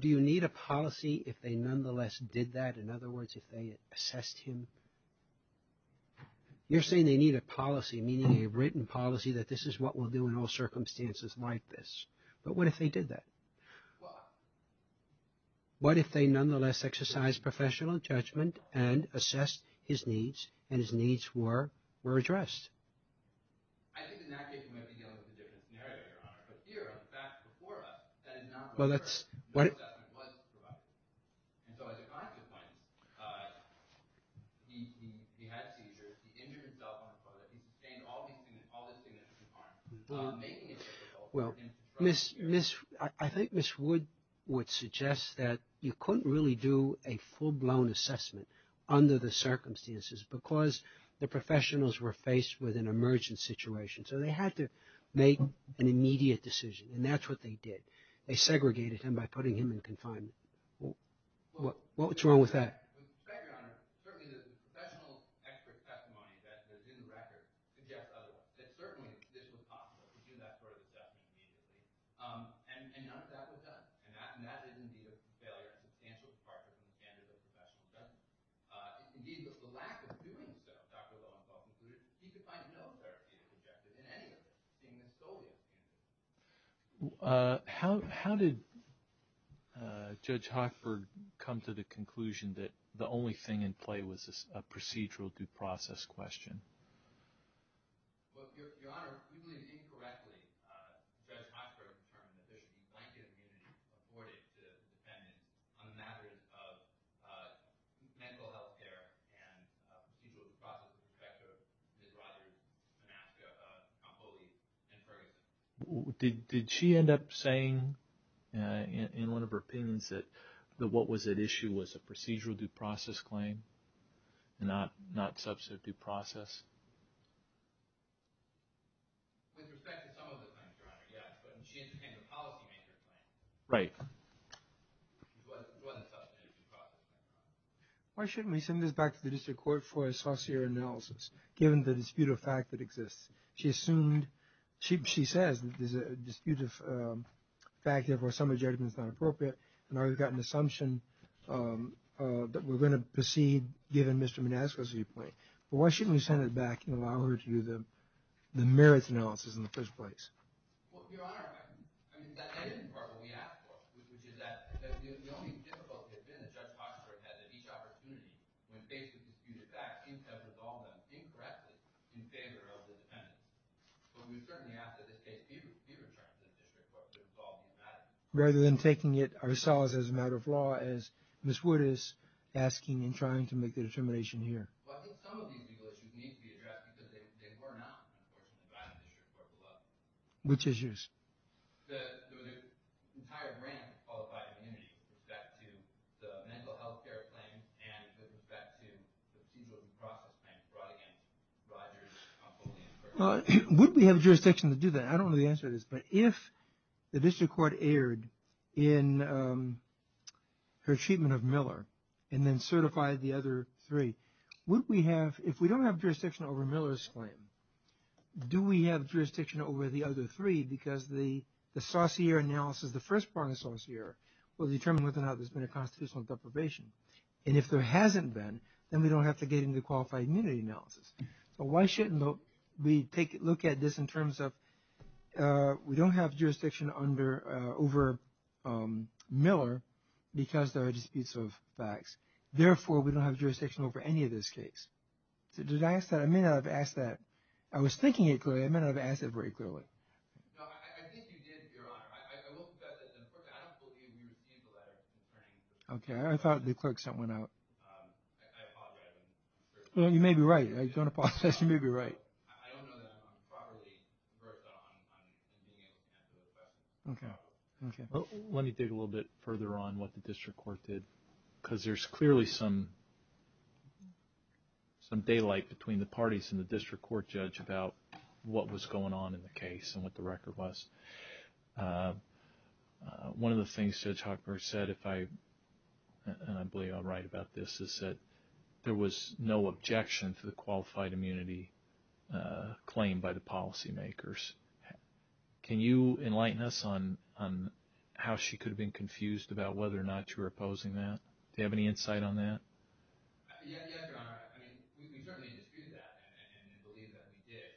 Do you need a policy if they nonetheless did that? In other words, if they assessed him? You're saying they need a policy, meaning a written policy, that this is what we'll do in all circumstances like this. But what if they did that? What if they nonetheless exercised professional judgment and assessed his needs and his needs were addressed? I think Ms. Wood would suggest that you couldn't really do a full-blown assessment under the circumstances because the professionals were faced with an emergent situation. So they had to make an immediate decision. And that's what they did. They segregated him by putting him in confinement. What's wrong with that? How did Judge Hofford come to the conclusion that the only thing in play was a procedural due process question? Did she end up saying in one of her opinions that what was at issue was a procedural due process claim, not substantive due process? Right. It wasn't substantive due process. Why shouldn't we send this back to the district court for a saucier analysis, given the disputed fact that exists? She assumed... She says there's a disputed fact and, therefore, some of the judgment is not appropriate. In other words, we've got an assumption that we're going to proceed given Mr. Manasco's viewpoint. But why shouldn't we send it back and allow her to do the merits analysis in the first place? Your Honor, I mean, that isn't part of what we asked for. The only difficulty has been that Judge Hofford has at each opportunity, when facing a disputed fact, seemed to have resolved that thing correctly in favor of the defendant. But we certainly ask that the case be retransmitted in response to the result of that. Rather than taking it ourselves as a matter of law, as Ms. Wood is asking and trying to make the determination here. But some of these legal issues need to be addressed because they were not... Which issues? Would we have jurisdiction to do that? I don't know the answer to this. But if the district court erred in her treatment of Miller and then certified the other three, would we have... If we don't have jurisdiction over Miller's claim, do we have jurisdiction over the other three? Because the first part of the Saussure will determine whether or not there's been a constitutional deprivation. And if there hasn't been, then we don't have to get into the qualified immunity analysis. But why shouldn't we look at this in terms of we don't have jurisdiction over Miller because there are disputes of facts. Therefore, we don't have jurisdiction over any of those cases. Did I ask that? I may not have asked that. I was thinking it clearly. I may not have asked it very clearly. I think you did, Your Honor. Okay, I thought the clerk sent one out. You may be right. I just want to pause. You may be right. Okay. Let me dig a little bit further on what the district court did because there's clearly some daylight between the parties and the district court judge about what was going on in the case and what the record was. One of the things Judge Hochberg said, and I believe I'm right about this, is that there was no objection to the qualified immunity claim by the policymakers. Can you enlighten us on how she could have been confused about whether or not you were opposing that? Do you have any insight on that? Yes, Your Honor. I mean, we certainly dispute that and believe that we did.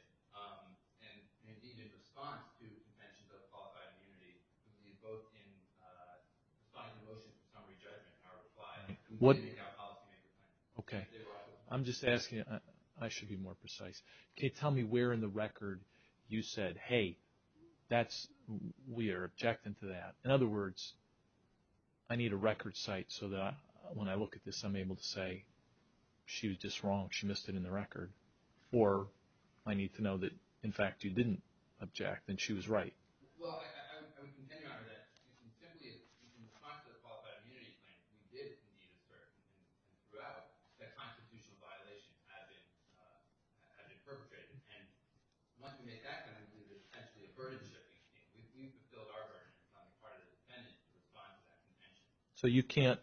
And, indeed, it's a farm to mention that a qualified immunity would be both in defying the motions of summary judgment or replying to anything our policymakers said. Okay. I'm just asking. I should be more precise. Okay, tell me where in the record you said, hey, we are objecting to that. In other words, I need a record cite so that when I look at this, I'm able to say she was just wrong, she missed it in the record. Or I need to know that, in fact, you didn't object and she was right. Well, I would contend, Your Honor, that simply in conflict of qualified immunity claims, we did indeed assert throughout that constitutional violation has been perpetrated. And once we make that claim, we can attempt to avert it. So you can't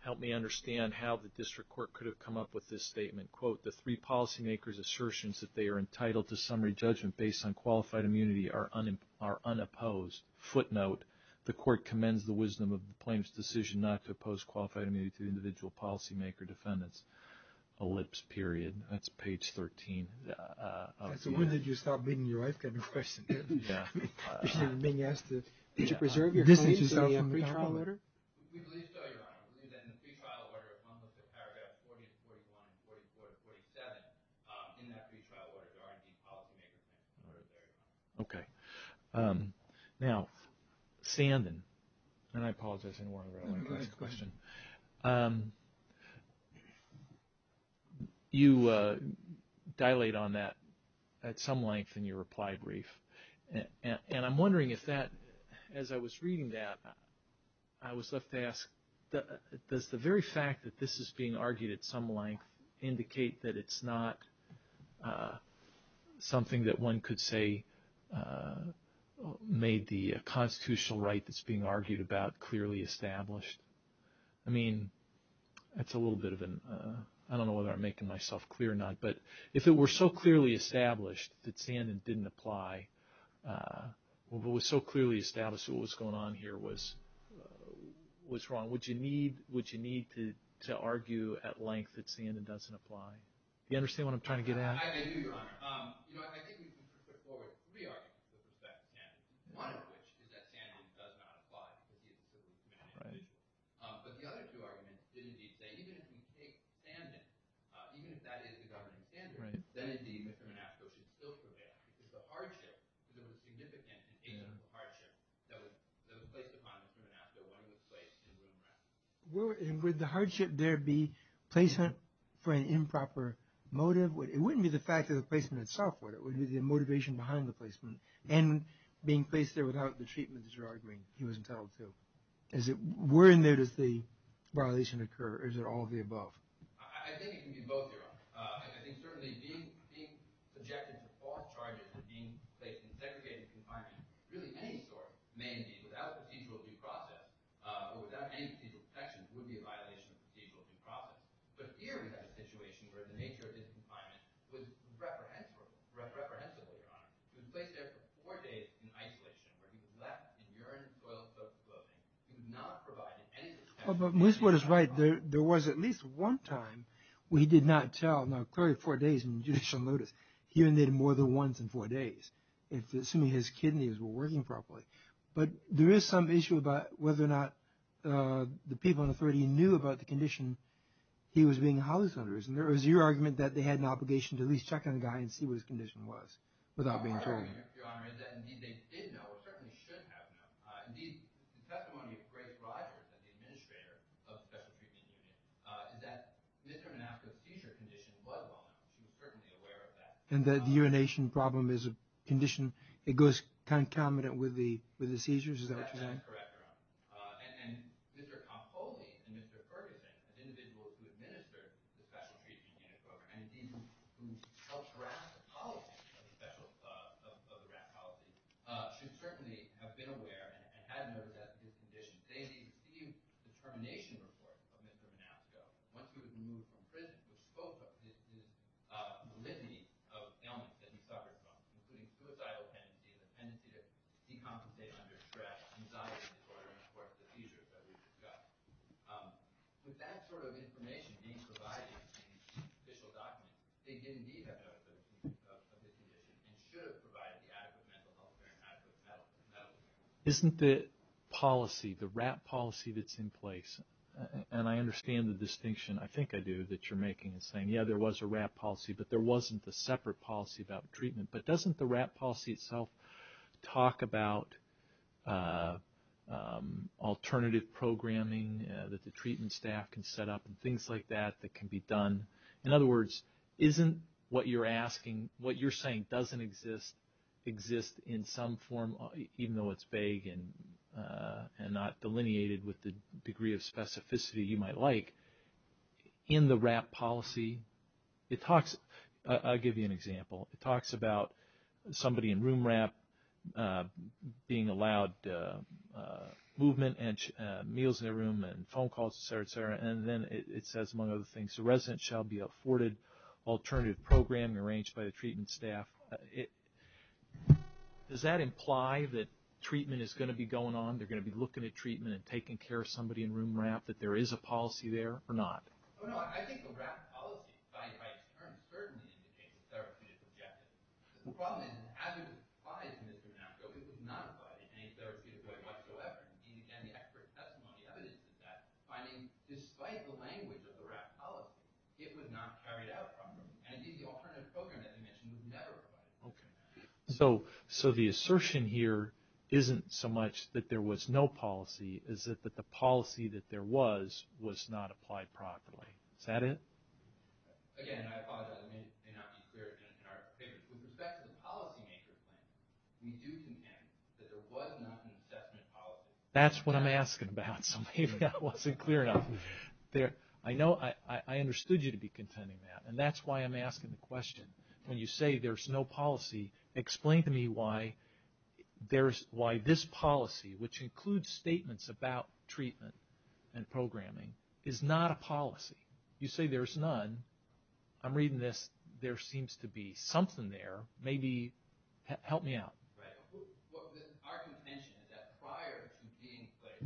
help me understand how the district court could have come up with this statement. Quote, the three policymakers' assertions that they are entitled to summary judgment based on qualified immunity are unopposed. Footnote, the court commends the wisdom of the plaintiff's decision not to oppose qualified immunity to the individual policymaker defendants. Ellipse period. That's page 13. So when did you stop beating your wife? I've got no question. You're being asked to preserve your claim and say I'm a trial lawyer? We believe so, Your Honor. We believe that in the pre-trial order as long as it's paragraph 40, 41, 44, 47, in that pre-trial order, there aren't any policymakers that can preserve it. Okay. Now, Sanden, and I apologize, I didn't want to go on to the next question. You dilate on that at some length in your reply brief, and I'm wondering if that, as I was reading that, I was left to ask, does the very fact that this is being argued at some length indicate that it's not something that one could say made the constitutional right that's being argued about clearly established? I mean, that's a little bit of an... I don't know whether I'm making myself clear or not, but if it were so clearly established that Sanden didn't apply, if it was so clearly established that what was going on here was wrong, would you need to argue at length that Sanden doesn't apply? Do you understand what I'm trying to get at? I do, Your Honor. I think we can put forward three arguments to the effect of Sanden, one of which is that Sanden does not apply but the other two arguments did indeed say even if we take Sanden, even if that is the governing standard, then indeed Mr. Manasso should still prevail because of the hardship, because of the significance of the hardship that was placed upon Mr. Manasso under this place in the room right now. Would the hardship there be placement for an improper motive? It wouldn't be the fact of the placement itself, would it? It would be the motivation behind the placement and being placed there without the treatment that you're arguing he was entitled to. Where in there does the violation occur? Is it all of the above? I think it can be both, Your Honor. In terms of being subjected to false charges for being placed in a segregated confinement, really any source, without the people to process, without any people's perception, would be a violation of the people to process. But here we have a situation where the nature of this confinement was reprehensible, Your Honor. It was placed there for four days in isolation where he was left to yearn and toil for self-development. He was not provided any treatment. But Ms. Wood is right. There was at least one time where he did not tell, no, clearly four days in judicial notice. He only did it more than once in four days, assuming his kidneys were working properly. But there is some issue about whether or not the people in authority knew about the condition he was being housed under. And there was your argument that they had an obligation to at least check on the guy and see what his condition was without being charged. Your Honor, indeed they did know, or certainly should have known. Indeed, the testimony of Grace Rogers, the administrator of the Special Treatment Unit, that Mr. Manaska's seizure condition was wrong. He was certainly aware of that. And that urination problem is a condition that goes concomitant with the seizures? Is that correct? That is correct, Your Honor. And Mr. Campogne and Mr. Ferguson, the individuals who administered the Special Treatment Unit program, and the people whose ultra-astrophysiology, the special of astrophysiology, should certainly have been aware and had an assessment of his condition. They received determination reports from Mr. Manaska once he was removed from prison, which spoke of his validity of ailments that he suffered from, including suicidal tendencies, a tendency to deconcentrate under stress, anxiety disorder, and of course the seizures that we discussed. With that sort of information being provided in the official documents, they did indeed have an assessment of his condition and should have provided the items that Mr. Campogne recognized as valid. Isn't the policy, the WRAP policy that's in place, and I understand the distinction, I think I do, that you're making, saying, yeah, there was a WRAP policy, but there wasn't a separate policy about treatment. But doesn't the WRAP policy itself talk about alternative programming that the treatment staff can set up and things like that that can be done? In other words, isn't what you're asking, what you're saying doesn't exist in some form, even though it's vague and not delineated with the degree of specificity you might like, in the WRAP policy, it talks, I'll give you an example, it talks about somebody in room WRAP and phone calls, et cetera, et cetera, and then it says, among other things, the resident shall be afforded alternative programming arranged by the treatment staff. Does that imply that treatment is going to be going on, they're going to be looking at treatment and taking care of somebody in room WRAP, that there is a policy there or not? Oh, no, I think the WRAP policy, by a certain degree, in the case of therapeutic objectives, requires an evidence-by in this example, because it's not about anything therapeutic going on whatsoever. And again, the expert testimony evidences that, finding, despite the language of the WRAP policy, it was not carried out from them. And indeed, the alternative programming mission was never about alternative programming. So the assertion here isn't so much that there was no policy, is that the policy that there was was not applied properly. Is that it? Again, I apologize. I may not be clear. With respect to the policy makers, we do contend that there was not an assessment policy. That's what I'm asking about. Maybe I wasn't clear enough. I know I understood you to be contending that, and that's why I'm asking the question. When you say there's no policy, explain to me why this policy, which includes statements about treatment and programming, is not a policy. You say there's none. I'm reading this. There seems to be something there. Maybe help me out. Right. Our contention is that prior to being put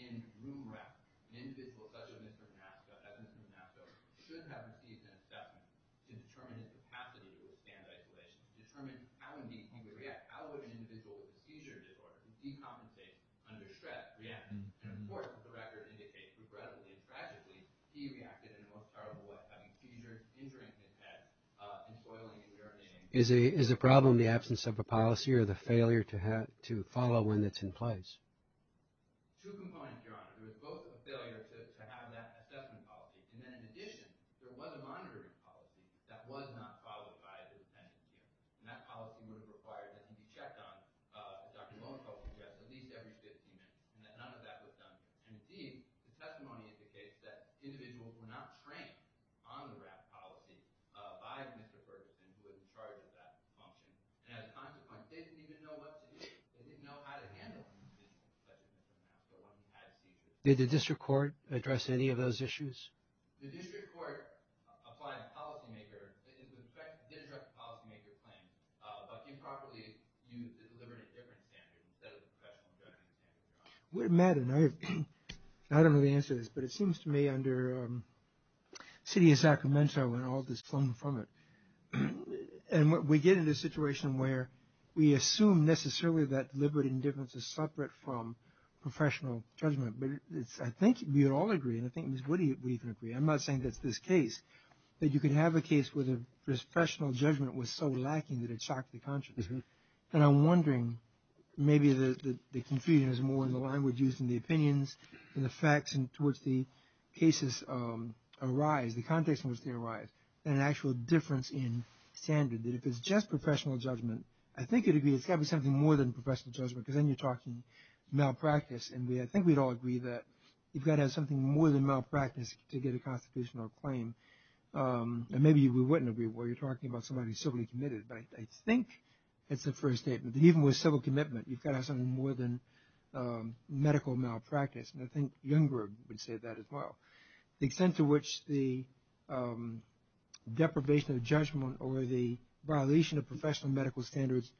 in WRAP, an individual such as Mr. Nasso, as Mr. Nasso, should have received an assessment to determine how to withstand isolation, to determine how, indeed, can we react, how would an individual with a seizure disorder decompensate under stress, react, and more than the record indicates, regrettably, tragically, he reacted in the most horrible way, having seizures, injuring his head, and boiling his urinary tract. Is the problem the absence of a policy or the failure to follow when it's in place? Two components, John. It was both a failure to have that assessment policy, and then, in addition, there was a monitoring policy that was not followed by the detention unit, and that policy was required to be checked on, as Dr. Lowenthal suggests, at least every 15 minutes, and that none of that was done. Indeed, the testimony indicates that individuals were not trained on the WRAP policy by Mr. Ferguson, who was in charge of that policy, and as Dr. Clark says, he didn't know what to do. He didn't know how to handle it. Did the district court address any of those issues? Did the district court apply a policymaker, did address a policymaker claim, but improperly used to deliver a different standard instead of a professional standard? I don't know the answer to this, but it seems to me, under city of Sacramento, there's a potential when all this comes from it, and we get into a situation where we assume necessarily that liberty and indifference is separate from professional judgment, but I think we would all agree, and I think Ms. Woody would agree. I'm not saying that this case, that you can have a case where the expressional judgment was so lacking that it shocked the conscience, and I'm wondering, maybe the confusion is more in the language used, and the opinions, and the facts, and towards the cases arise. And an actual difference in standard. If it's just professional judgment, I think it would be something more than professional judgment, because then you're talking malpractice, and I think we'd all agree that you've got to have something more than malpractice to get a constitutional claim. And maybe we wouldn't agree where you're talking about somebody who's civilly committed, but I think it's the first statement. Even with civil commitment, you've got to have something more than medical malpractice, and I think Youngberg would say that as well. The extent to which the deprivation of judgment over the violation of professional medical standards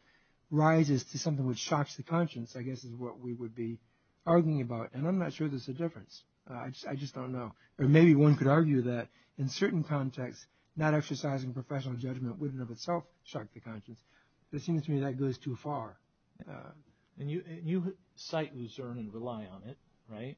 rises to something which shocks the conscience, I guess is what we would be arguing about, and I'm not sure there's a difference. I just don't know. Or maybe one could argue that in certain contexts, not exercising professional judgment wouldn't in itself shock the conscience. It seems to me that goes too far. And you cite Lucerne and rely on it, right?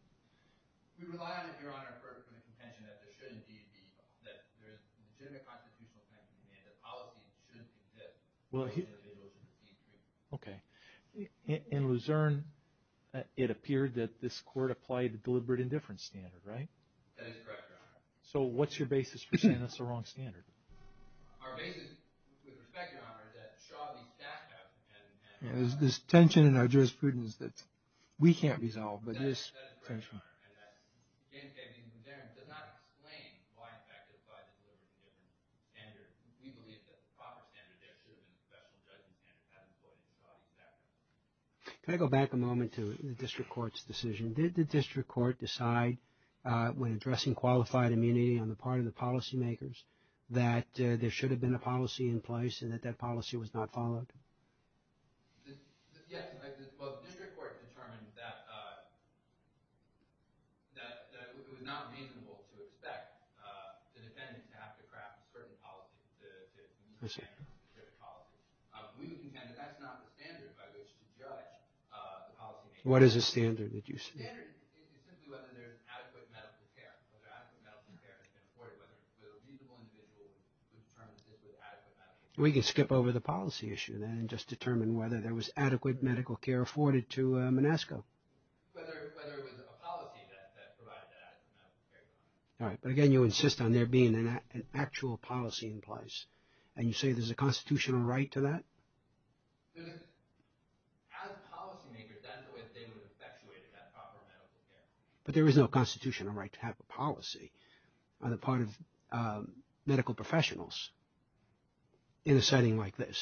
We rely on it, Your Honor, for the contention that there shouldn't be a default, that there's a legitimate constitutional claim and a policy that shouldn't exist for an individual to be proven. Okay. In Lucerne, it appeared that this court applied a deliberate indifference standard, right? That is correct, Your Honor. So what's your basis for saying that's the wrong standard? Our basis, with respect, Your Honor, is that Charlie Stackhouse has this tension in our jurisprudence that we can't resolve, but this case... That's correct, Your Honor. In any case, the variance does not explain why, in fact, it applies to a different standard. We believe it's a proper standard. There should have been discussion about the importance of that. Can I go back a moment to the district court's decision? Did the district court decide when addressing qualified immunity that there should have been a policy in place and that that policy was not followed? Yes, Your Honor. Well, the district court determined that it was not reasonable to expect the defendant to have to craft certain policies. I see. Certain policies. We would think that that's not the standard by which to judge the policy. What is the standard that you speak of? It's simply whether there is adequate medical care, whether adequate medical care is supported by the reasonable individual who is determinative of adequate medical care. We could skip over the policy issue, then, and just determine whether there was adequate medical care afforded to Manasco. Whether it was a policy that provided that adequate medical care. All right. But, again, you insist on there being an actual policy in place. And you say there's a constitutional right to that? There is. As a policymaker, that's the way the state would have evaluated that proper medical care. But there is no constitutional right to have a policy on the part of medical professionals in a setting like this.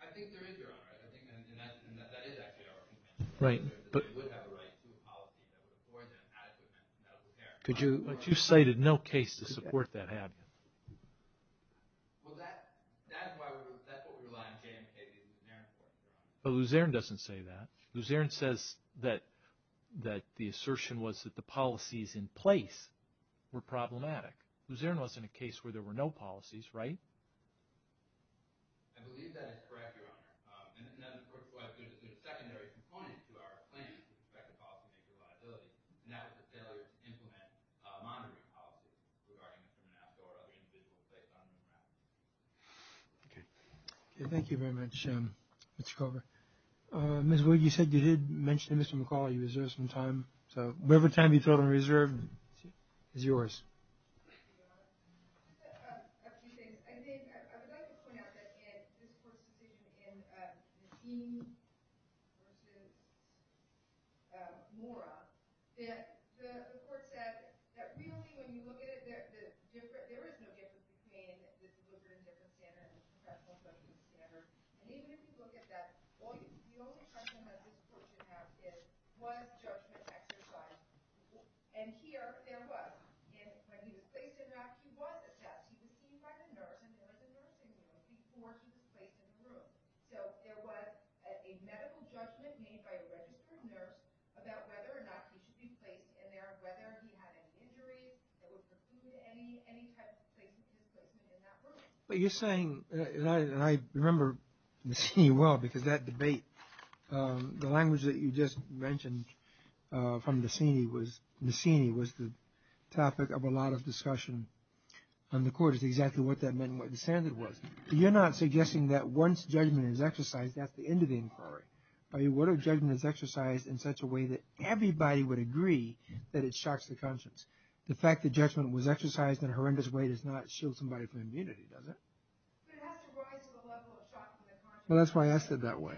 I think there is, Your Honor. I think that is actually our contention. Right. That we would have a right to a policy that would afford that adequate medical care. But you cited no case to support that habit. Well, that's what we rely on J.M. Casey and Luzerne for. But Luzerne doesn't say that. Luzerne says that the assertion was that the policies in place were problematic. Luzerne wasn't a case where there were no policies, right? I believe that is correct, Your Honor. And this is not the first question. It's a secondary component to our plan to protect the policymaker's liability. And that's a failure to implement monitoring policies with regard to some of that sort of institutional safeguarding. Okay. Thank you very much, Mr. Kroger. Ms. Wood, you said you did mention Mr. McAuley who deserves some time. So, whatever time you feel is reserved is yours. Thank you, Your Honor. I have a few things. I mean, I would like to point out that in this court proceeding, in the scheme, which is Mora, that the court said that really when you look at it, there is no difference between what's written in different standards and what's not written in different standards. I mean, if you look at that voice, the only question that this court has is was judgment exercised? And here, there was. And when he was placed in there, he was assessed. He was seen by the nurse before he was placed in the room. So, there was a medical judgment made by a registered nurse about whether or not he should be placed in there, whether he had an injury, if it was related to any type of situation in which he may not work. But you're saying, and I remember the scheme well because that debate, the language that you just mentioned from Mussini was the topic of a lot of discussion on the court is exactly what that meant and what the standard was. So, you're not suggesting that once judgment is exercised, that's the end of the inquiry. What if judgment is exercised in such a way that everybody would agree that it shocks the conscience? The fact that judgment was exercised in a horrendous way does not shield somebody from immunity, does it? Well, that's why I said that way.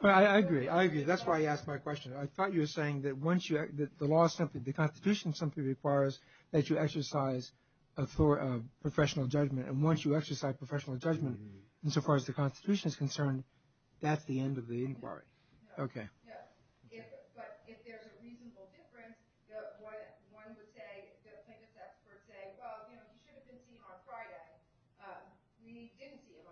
Well, I agree, I agree. That's why I asked my question. I thought you were saying that once you, the Constitution simply requires that you exercise professional judgment. And once you exercise professional judgment, as far as the Constitution is concerned, that's the end of the inquiry. Okay. Well, you know, you shouldn't have been seen on Friday. We didn't see him on Friday. There was a judgment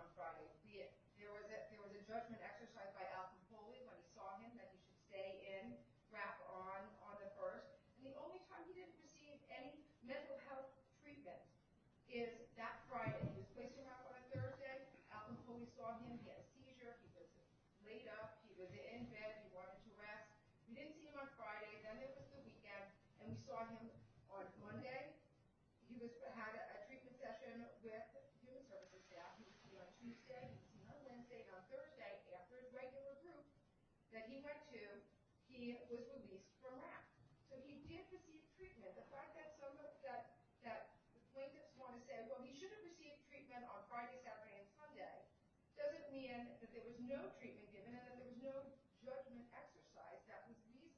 exercised by Alton Coley when we saw him that he should stay in, wrap arms on the earth. And the only time we didn't receive any mental health treatment is that Friday. We went to have a conservative. Alton Coley saw him, he had a seizure. He was just laid up. He was in bed, he wanted to rest. We didn't see him on Friday. Then it was the weekend. And we saw him on Monday. He was to have a treatment session with his medical staff on Tuesday. On Wednesday, not Thursday, after his regular group that he went to, he was released from that. So he did receive treatment. The fact that some of us, that we just want to say, well, he should have received treatment on Friday, Saturday, and Sunday, doesn't mean that there was no treatment given him, that there was no resident exercise that was needed.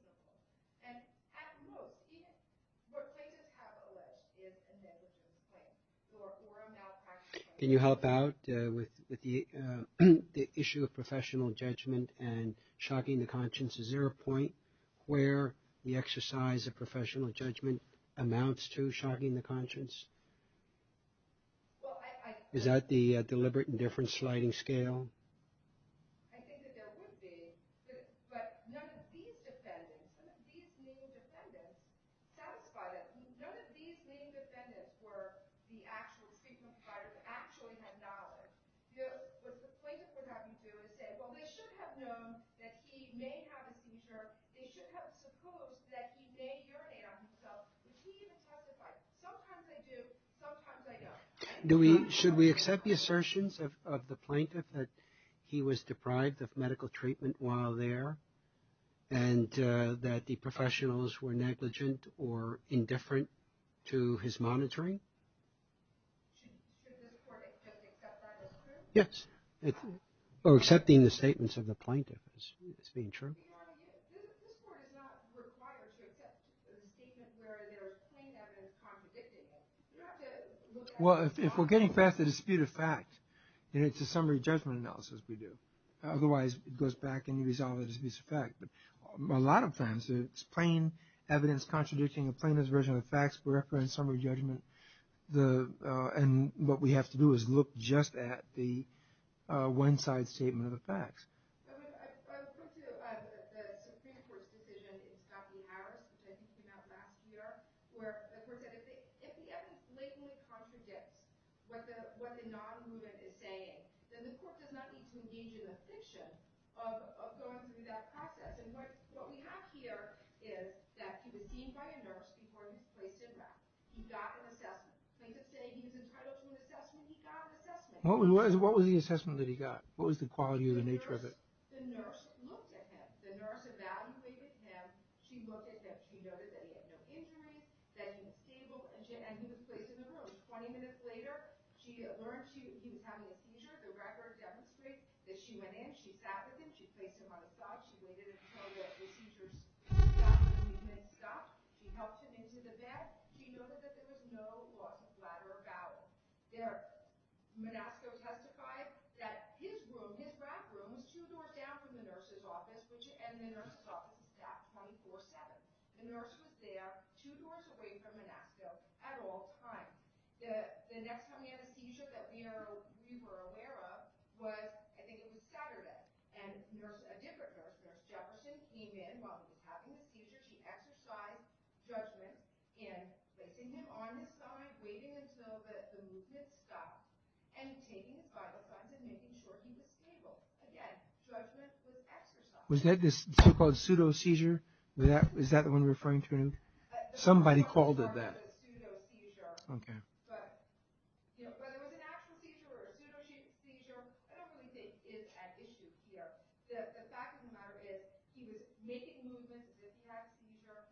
And at the most, even, we're putting the capital in, is a negligent thing. So if we're not actually... Can you help out with the issue of professional judgment and shocking the conscience? Is there a point where the exercise of professional judgment amounts to shocking the conscience? Is that the deliberate indifference sliding scale? I think that there would be. But none of these defendants, none of these main defendants, satisfied us. None of these main defendants were the actual treatment providers, actually had knowledge. What the plaintiffs are having to do is say, well, they should have known that he may have a seizure. They should have supposed that he may urinate on himself. Does he even have the right? Sometimes I do. Sometimes I don't. Should we accept the assertions of the plaintiff that he was deprived of medical treatment while there? And that the professionals were negligent or indifferent to his monitoring? Yes. Accepting the statements of the plaintiff is being true. Well, if we're getting past the disputed facts, it's a summary judgment analysis we do. Otherwise, it goes back and resolves a disputed fact. A lot of times, it's plain evidence contradicting the plaintiff's version of the facts for reference summary judgment. And what we have to do is look just at the one-side statement of the facts. What was the assessment that he got? What was the quality or the nature of it? She sat him in. She placed him on a stock. She waited until he had his seizures. He stopped. He helped him into the bed. She noted that there was no lateral bowel. There, Manasco testified that his room, his bathroom, was two doors down from the nurse's office and the nurse's office. That's 24-7. The nurse was there two doors away from Manasco at all times. The next time he had a seizure that we were aware of was, I think it was Saturday, and a different nurse, Jefferson came in while he was having a seizure. She exercised judgment in placing him on a stock, waiting until the movement stopped, and taking his Bible signs and making sure he was stable. Again, judgment was exercised. Was that the so-called pseudo-seizure? Is that the one referring to? Somebody called it that. It was a pseudo-seizure. Okay. But it was an actual seizure, a pseudo-seizure. I don't really think it had issues here. The fact of the matter is he was naked in movement. He didn't have a seizure.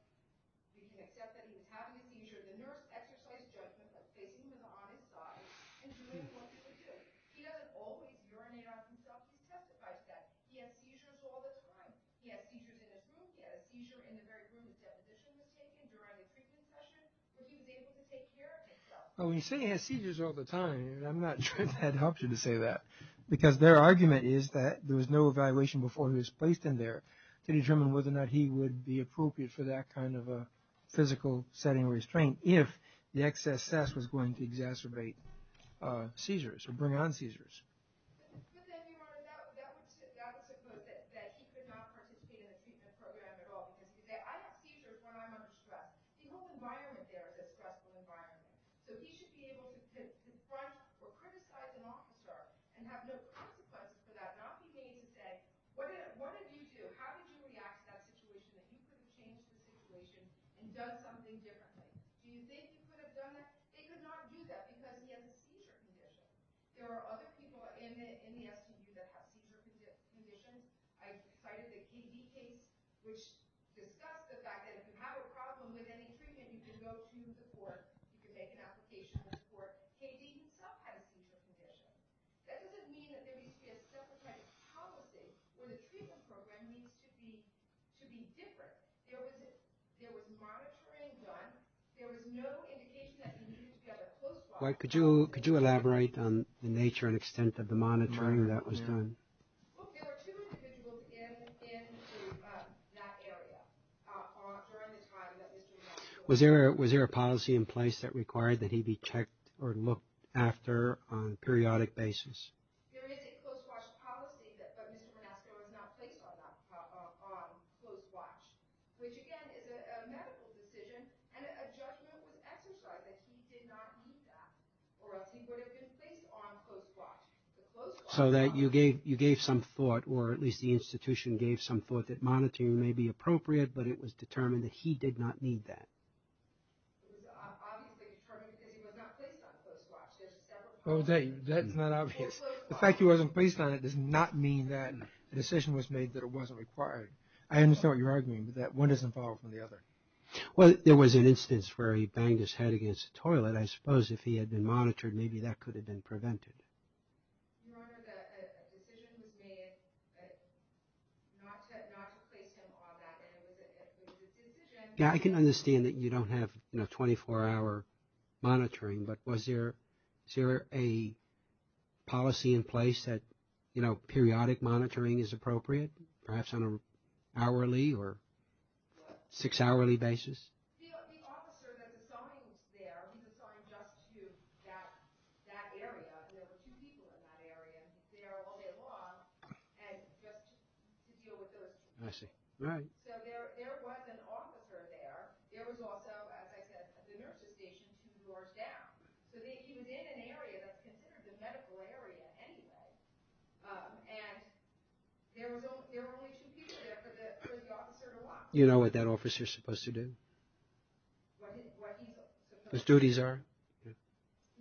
We can accept that he was having a seizure. The nurse exercised judgment by placing him on his stock and doing what he was doing. He has always, during Manasco, testified that he had seizures all the time. He had seizures in his room. He had a seizure in his very room. He said additional medication during the treatment session that he was able to take care of himself. When you say he had seizures all the time, I'm not sure that helps you to say that because their argument is that there was no evaluation before he was placed in there to determine whether or not he would be appropriate for that kind of a physical setting restraint if the excess sass was going to exacerbate seizures or bring on seizures. That was the quote that said he could not participate in a treatment program at all. He said, I have seizures when I'm under stress. He wasn't wired there as a stressful environment. He should be able to confront or criticize an officer and have no consequences for that and not be made to say, what did you do? How did you react to that situation? You should have changed the situation and done something differently. Do you think he could have done that? He could not do that because he has a seizure condition. There are other people in the FDA that have seizure conditions. I just cited a TB case which discussed the fact that if you have a problem with any treatment, you should go to the court to make an application for a TB, a pediatric seizure condition. That doesn't mean that there would be a separate policy where the treatment program needs to be different. There was not a trend done. There was no indication that he needed to get a post-op. Could you elaborate on the nature and extent of the monitoring that was done? Was there a policy in place that required that he be checked or looked after on a periodic basis? So that you gave some thought or at least the institution gave some thought that monitoring may be appropriate but it was determined that he did not need that. There was an instance where he banged his head against the toilet. I suppose if he had been monitored, maybe that could have been prevented. I can understand that you don't have 24-hour monitoring but was there a policy in place that periodic monitoring is appropriate, perhaps on an hourly or six-hourly basis? That area, there were two people in that area there all day long and just to deal with those people. So there was an officer there. There was also, as I said, a nurse's station two doors down. So they came in an area that was considered a medical area anyway and there were only two people there for the officer to watch. You know what that officer is supposed to do? His duties are? He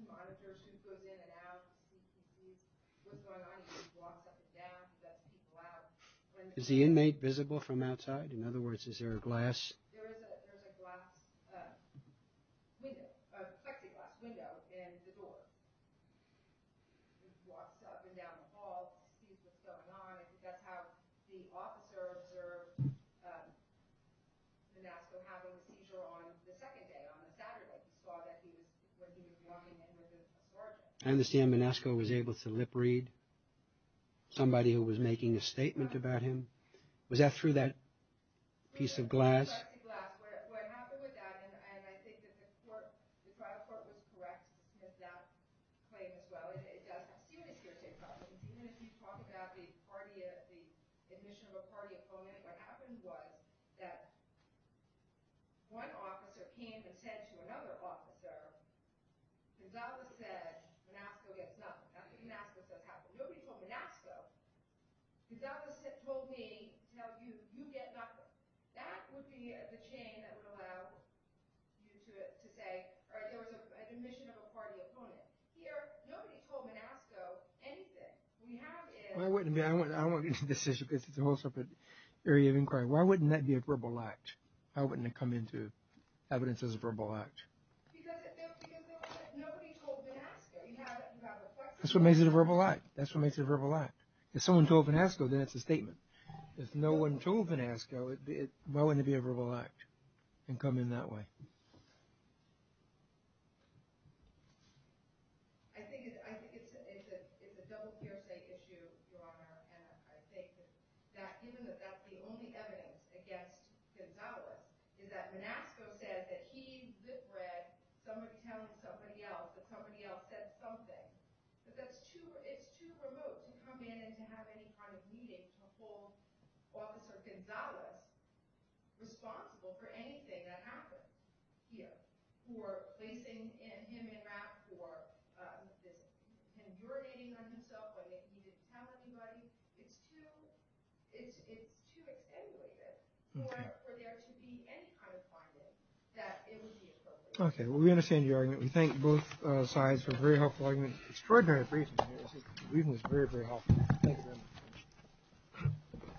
monitors who's in and out. Is the inmate visible from outside? In other words, is there a glass? I understand Manesco was able to lip-read somebody who was making a statement about him. Was that through that piece of glass? Answer the following question. This is a whole separate area of inquiry. Why wouldn't that be a verbal act? How wouldn't it come into evidence as a verbal act? That's what makes it a verbal act. That's what makes it a verbal act. If someone told Panasco, then it's a statement. If no one told Panasco, why wouldn't it be a verbal act and come in that way? Okay. Okay. Well, we understand the argument. We thank both sides for a very helpful argument. Extraordinary presentation. The reason is very, very helpful. Thank you very much.